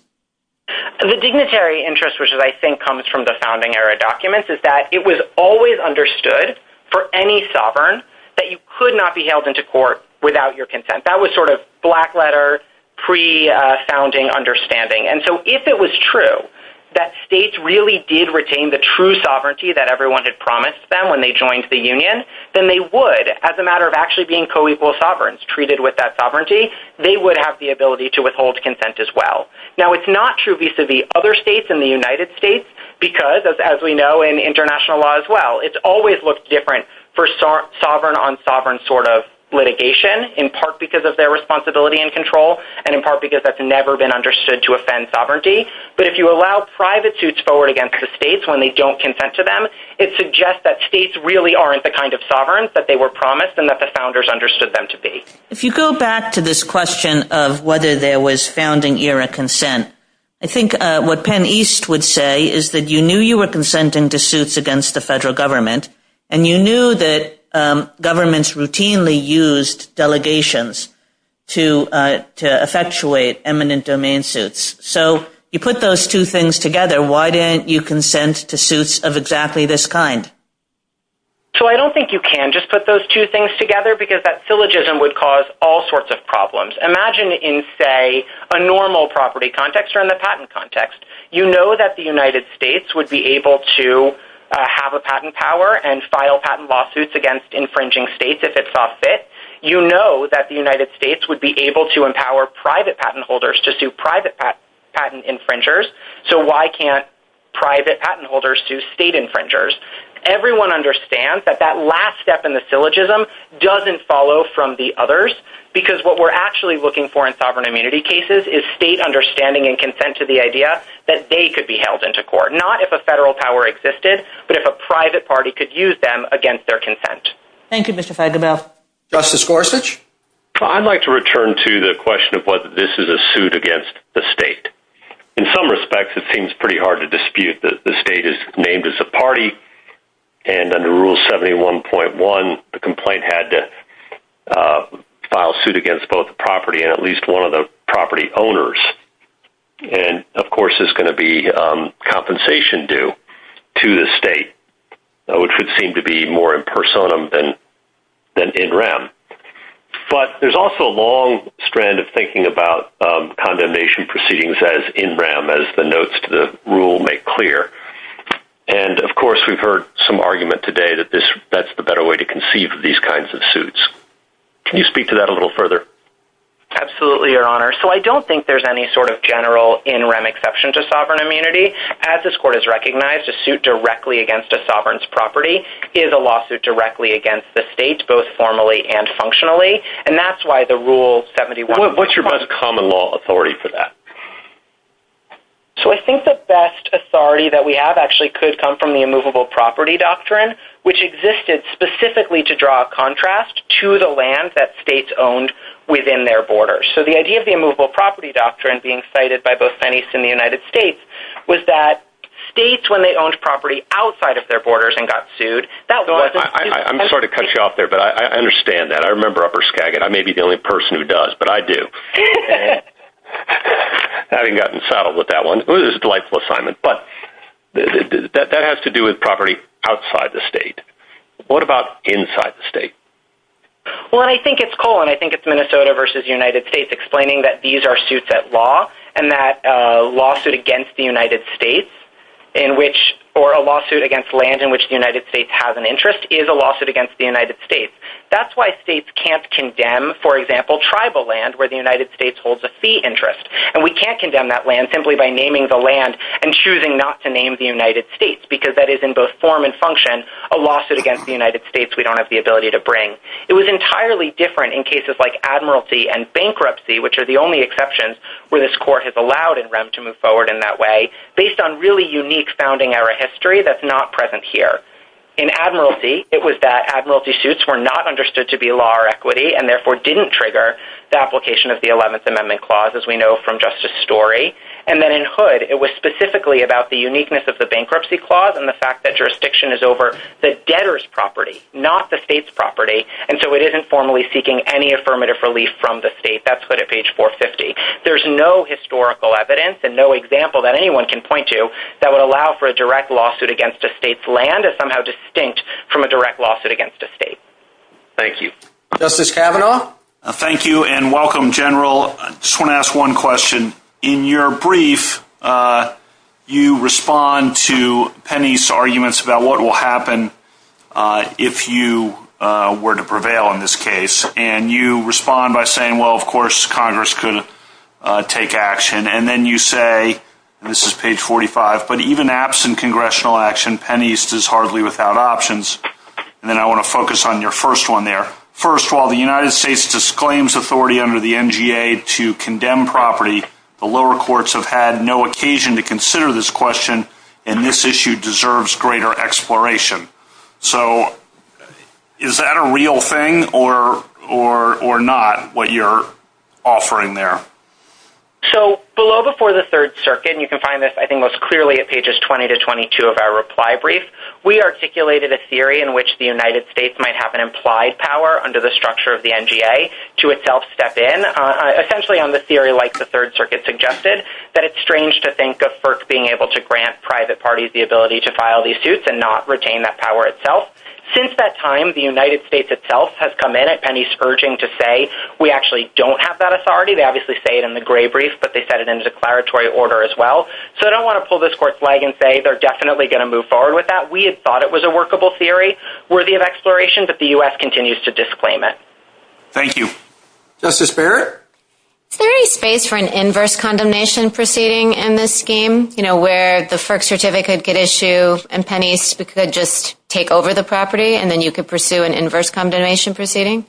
The dignitary interest, which I think comes from the founding era documents, is that it was always understood for any sovereign that you could not be held into court without your consent. That was sort of black letter, pre-founding understanding. And so if it was true that states really did retain the true sovereignty that everyone had promised them when they joined the union, then they would, as a matter of actually being coequal sovereigns treated with that sovereignty, they would have the ability to withhold consent as well. Now, it's not true vis-a-vis other states in the United States because, as we know in international law as well, it's always looked different for sovereign on sovereign sort of litigation, in part because of their responsibility and control, and in part because that's never been understood to offend sovereignty. But if you allow private suits forward against the states when they don't consent to them, it suggests that states really aren't the kind of sovereigns that they were promised and that the founders understood them to be. If you go back to this question of whether there was founding era consent, I think what Penn East would say is that you knew you were consenting to suits against the federal government, and you knew that governments routinely used delegations to effectuate eminent domain suits. So you put those two things together. Why didn't you consent to suits of exactly this kind? So I don't think you can just put those two things together because that syllogism would cause all sorts of problems. Imagine in, say, a normal property context or in the patent context. You know that the United States would be able to have a patent power and file patent lawsuits against infringing states if it saw fit. You know that the United States would be able to empower private patent holders to sue private patent infringers, so why can't private patent holders sue state infringers? Everyone understands that that last step in the syllogism doesn't follow from the others because what we're actually looking for in sovereign immunity cases is state understanding and consent to the idea that they could be held into court, not if a federal power existed, but if a private party could use them against their consent. Thank you, Mr. Feigenbaum. Justice Gorsuch? I'd like to return to the question of whether this is a suit against the state. In some respects, it seems pretty hard to dispute that the state is named as a party, and under Rule 71.1, the complaint had to file suit against both the property and at And, of course, there's going to be compensation due to the state, which would seem to be more in personam than in rem. But there's also a long strand of thinking about condemnation proceedings as in rem, as the notes to the rule make clear. And, of course, we've heard some argument today that that's the better way to conceive of these kinds of suits. Can you speak to that a little further? Absolutely, Your Honor. So I don't think there's any sort of general in rem exception to sovereign immunity. As this court has recognized, a suit directly against a sovereign's property is a lawsuit directly against the state, both formally and functionally, and that's why the Rule 71. What's your common law authority for that? So I think the best authority that we have actually could come from the immovable property doctrine, which existed specifically to draw a contrast to the land that states owned within their borders. So the idea of the immovable property doctrine being cited by both pennies in the United States was that states, when they owned property outside of their borders and got sued… I'm sorry to cut you off there, but I understand that. I remember Upper Skagit. I may be the only person who does, but I do. I haven't gotten settled with that one. It was a delightful assignment. But that has to do with property outside the state. What about inside the state? Well, I think it's cool, and I think it's Minnesota versus the United States explaining that these are suits at law, and that a lawsuit against the United States or a lawsuit against land in which the United States has an interest is a lawsuit against the United States. That's why states can't condemn, for example, tribal land where the United States holds a fee interest. And we can't condemn that land simply by naming the land and choosing not to name the United States, because that is in both form and function a lawsuit against the United It was entirely different in cases like admiralty and bankruptcy, which are the only exceptions where this court has allowed NREM to move forward in that way, based on really unique founding era history that's not present here. In admiralty, it was that admiralty suits were not understood to be law or equity and therefore didn't trigger the application of the 11th Amendment clause, as we know from Justice Story. And then in Hood, it was specifically about the uniqueness of the bankruptcy clause and the fact that jurisdiction is over the debtor's property, not the state's property, and so it isn't formally seeking any affirmative relief from the state. That's Hood at page 450. There's no historical evidence and no example that anyone can point to that would allow for a direct lawsuit against a state's land as somehow distinct from a direct lawsuit against a state. Thank you. Justice Kavanaugh? Thank you, and welcome, General. I just want to ask one question. In your brief, you respond to Penny's arguments about what will happen if you were to prevail in this case, and you respond by saying, well, of course, Congress could take action. And then you say, and this is page 45, but even absent congressional action, Penny's is hardly without options. And then I want to focus on your first one there. First of all, the United States disclaims authority under the NGA to condemn property. The lower courts have had no occasion to consider this question, and this issue deserves greater exploration. So is that a real thing or not, what you're offering there? So below before the Third Circuit, and you can find this, I think, most clearly at pages 20 to 22 of our reply brief, we articulated a theory in which the United States might have an implied power under the structure of the NGA to itself step in, essentially on the theory like the Third Circuit suggested, that it's strange to think of FERC being able to grant private parties the ability to file these suits and not retain that power itself. Since that time, the United States itself has come in at Penny's urging to say we actually don't have that authority. They obviously say it in the gray brief, but they said it in declaratory order as well. So I don't want to pull this court's leg and say they're definitely going to move forward with that. We thought it was a workable theory worthy of exploration, but the U.S. continues to disclaim it. Thank you. Justice Barrett? Is there any space for an inverse condemnation proceeding in this scheme, you know, where the FERC certificate could get issued and Penny could just take over the property and then you could pursue an inverse condemnation proceeding?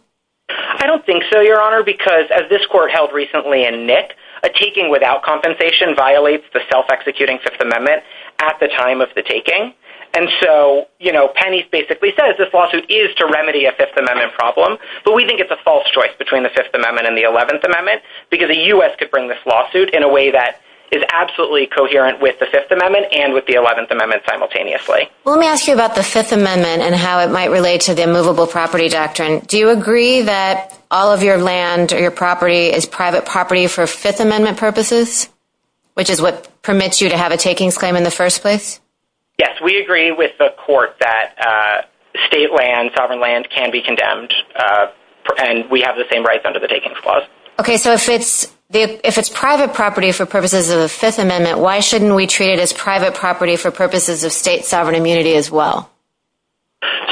I don't think so, Your Honor, because as this court held recently in Nick, a taking without compensation violates the self-executing Fifth Amendment at the time of the taking. And so, you know, Penny basically says this lawsuit is to remedy a Fifth Amendment problem, but we think it's a false choice between the Fifth Amendment and the Eleventh Amendment because the U.S. could bring this lawsuit in a way that is absolutely coherent with the Fifth Amendment and with the Eleventh Amendment simultaneously. Let me ask you about the Fifth Amendment and how it might relate to the immovable property doctrine. Do you agree that all of your land or your property is private property for Fifth Amendment purposes, which is what permits you to have a taking claim in the first place? Yes, we agree with the court that state land, sovereign land can be condemned and we have the same rights under the Takings Clause. Okay, so if it's private property for purposes of the Fifth Amendment, why shouldn't we treat it as private property for purposes of state sovereign immunity as well?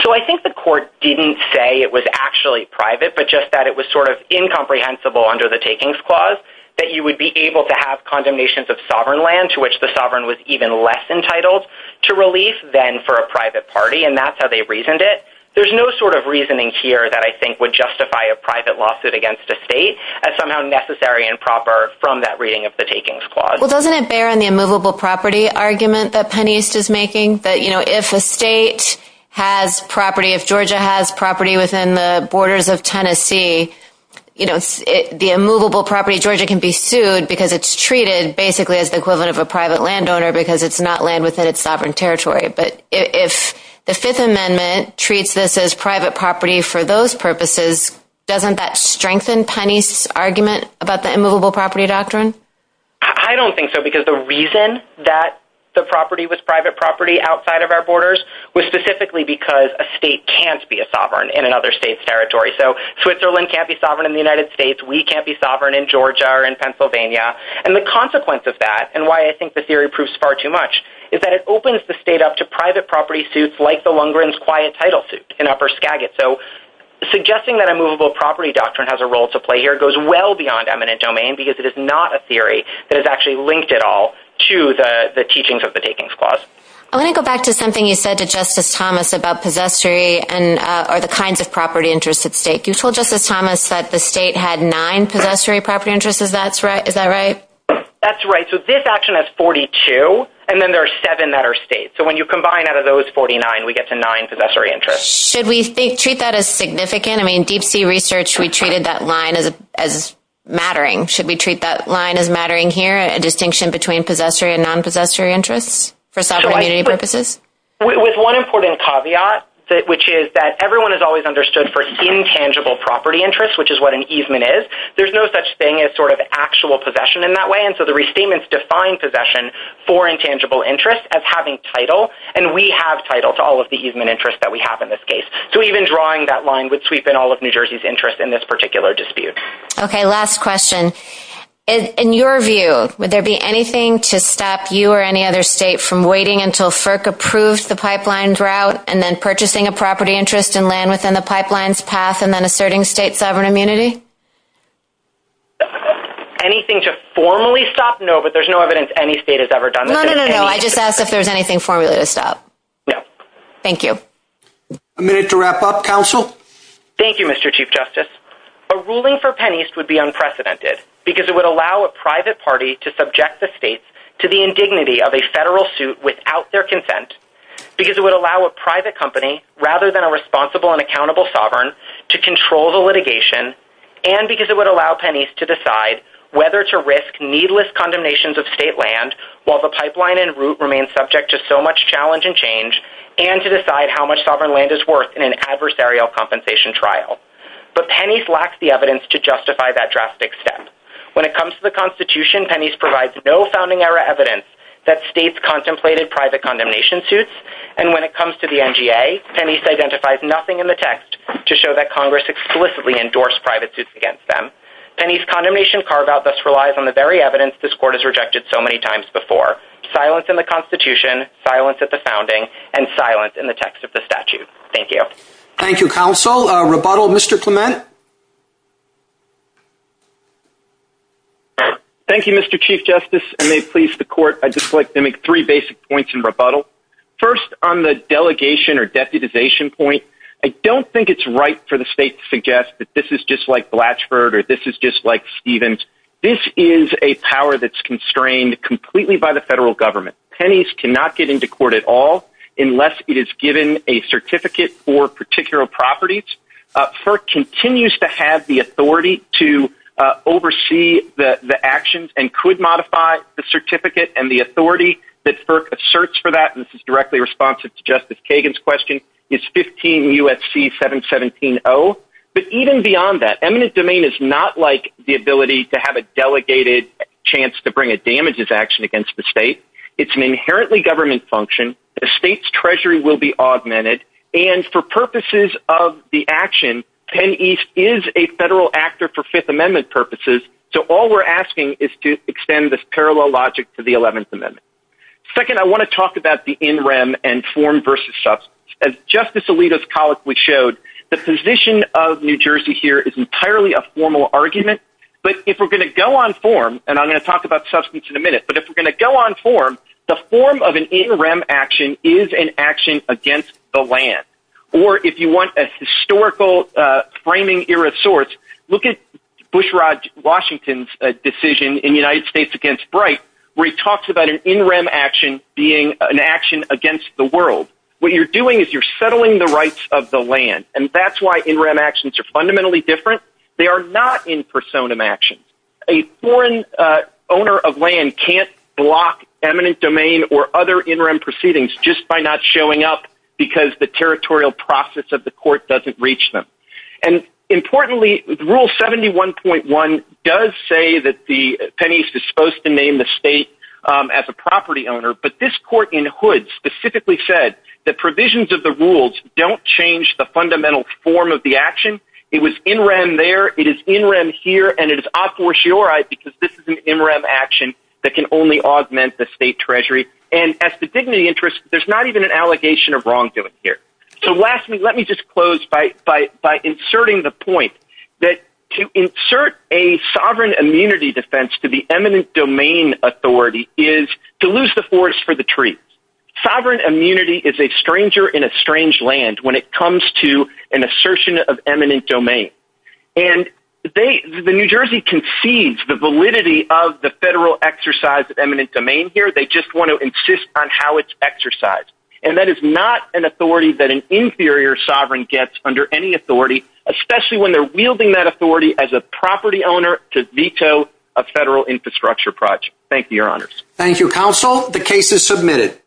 So I think the court didn't say it was actually private, but just that it was sort of incomprehensible under the Takings Clause that you would be able to have condemnations of sovereign land to which the sovereign was even less entitled to relief than for a private party, and that's how they reasoned it. There's no sort of reasoning here that I think would justify a private lawsuit against a state as somehow necessary and proper from that reading of the Takings Clause. Well, doesn't it bear on the immovable property argument that Penn East is making that, you know, if a state has property, if Georgia has property within the borders of Tennessee, you know, the immovable property of Georgia can be sued because it's treated basically as the equivalent of a private landowner because it's not land within its sovereign territory. But if the Fifth Amendment treats this as private property for those purposes, doesn't that strengthen Penn East's argument about the immovable property doctrine? I don't think so, because the reason that the property was private property outside of our borders was specifically because a state can't be a sovereign in another state's territory. A state can't be sovereign in the United States. We can't be sovereign in Georgia or in Pennsylvania. And the consequence of that, and why I think the theory proves far too much, is that it opens the state up to private property suits like the Lundgren's quiet title suit in Upper Skagit. So suggesting that immovable property doctrine has a role to play here goes well beyond eminent domain because it is not a theory that is actually linked at all to the teachings of the Takings Clause. I want to go back to something you said to Justice Thomas about possessory and the kinds of property interests at stake. You told Justice Thomas that the state had nine possessory property interests. Is that right? That's right. So this action has 42, and then there are seven that are state. So when you combine out of those 49, we get to nine possessory interests. Should we treat that as significant? I mean, deep sea research, we treated that line as mattering. Should we treat that line as mattering here, a distinction between possessory and non-possessory interests for sovereign community purposes? With one important caveat, which is that everyone has always understood for intangible property interests, which is what an easement is. There's no such thing as sort of actual possession in that way, and so the restatements define possession for intangible interests as having title, and we have title to all of the easement interests that we have in this case. So even drawing that line would sweep in all of New Jersey's interests in this particular dispute. Okay, last question. In your view, would there be anything to stop you or any other state from waiting until FERC approves the pipeline's route and then purchasing a property interest and land within the pipeline's path and then asserting state sovereign immunity? Anything to formally stop? No, but there's no evidence any state has ever done that. No, no, no, no. I just asked if there's anything formally to stop. No. Thank you. A minute to wrap up, counsel. Thank you, Mr. Chief Justice. A ruling for Penn East would be unprecedented because it would allow a private party to consent, because it would allow a private company, rather than a responsible and accountable sovereign, to control the litigation, and because it would allow Penn East to decide whether to risk needless condemnations of state land while the pipeline and route remain subject to so much challenge and change, and to decide how much sovereign land is worth in an adversarial compensation trial. But Penn East lacks the evidence to justify that drastic step. When it comes to the Constitution, Penn East provides no founding era evidence that states contemplated private condemnation suits, and when it comes to the NGA, Penn East identifies nothing in the text to show that Congress explicitly endorsed private suits against them. Penn East's condemnation carve-out thus relies on the very evidence this court has rejected so many times before, silence in the Constitution, silence at the founding, and silence in the text of the statute. Thank you. Thank you, counsel. Rebuttal, Mr. Clement? Thank you, Mr. Chief Justice. I may please the court. I'd just like to make three basic points in rebuttal. First, on the delegation or deputization point, I don't think it's right for the state to suggest that this is just like Blatchford or this is just like Stevens. This is a power that's constrained completely by the federal government. Penn East cannot get into court at all unless it is given a certificate for particular properties. FERC continues to have the authority to oversee the actions and could modify the certificate and the authority that FERC asserts for that, and this is directly responsive to Justice Kagan's question, is 15 U.S.C. 717-0. But even beyond that, eminent domain is not like the ability to have a delegated chance to bring a damages action against the state. It's an inherently government function. The state's treasury will be augmented. And for purposes of the action, Penn East is a federal actor for Fifth Amendment purposes, so all we're asking is to extend this parallel logic to the Eleventh Amendment. Second, I want to talk about the in rem and form versus substance. As Justice Alito's colleague showed, the position of New Jersey here is entirely a formal argument, but if we're going to go on form, and I'm going to talk about substance in a minute, but if we're going to go on form, the form of an in rem action is an action against the land. Or if you want a historical framing era source, look at Bushrod Washington's decision in the United States against Bright where he talks about an in rem action being an action against the world. What you're doing is you're settling the rights of the land, and that's why in rem actions are fundamentally different. They are not in personam actions. A foreign owner of land can't block eminent domain or other in rem proceedings just by not showing up because the territorial process of the court doesn't reach them. And importantly, Rule 71.1 does say that the pennies are supposed to name the state as a property owner, but this court in Hood specifically said that provisions of the rules don't change the fundamental form of the action. It was in rem there, it is in rem here, and it is a fortiori because this is an in rem action that can only augment the state treasury. And as to dignity interests, there's not even an allegation of wrongdoing here. So lastly, let me just close by inserting the point that to insert a sovereign immunity defense to the eminent domain authority is to lose the forest for the trees. Sovereign immunity is a stranger in a strange land when it comes to an assertion of eminent domain. And the New Jersey concedes the validity of the federal exercise of eminent domain here. They just want to insist on how it's exercised. And that is not an authority that an inferior sovereign gets under any authority, especially when they're wielding that authority as a property owner to veto a federal infrastructure project. Thank you, Your Honors. Thank you, Counsel. The case is submitted.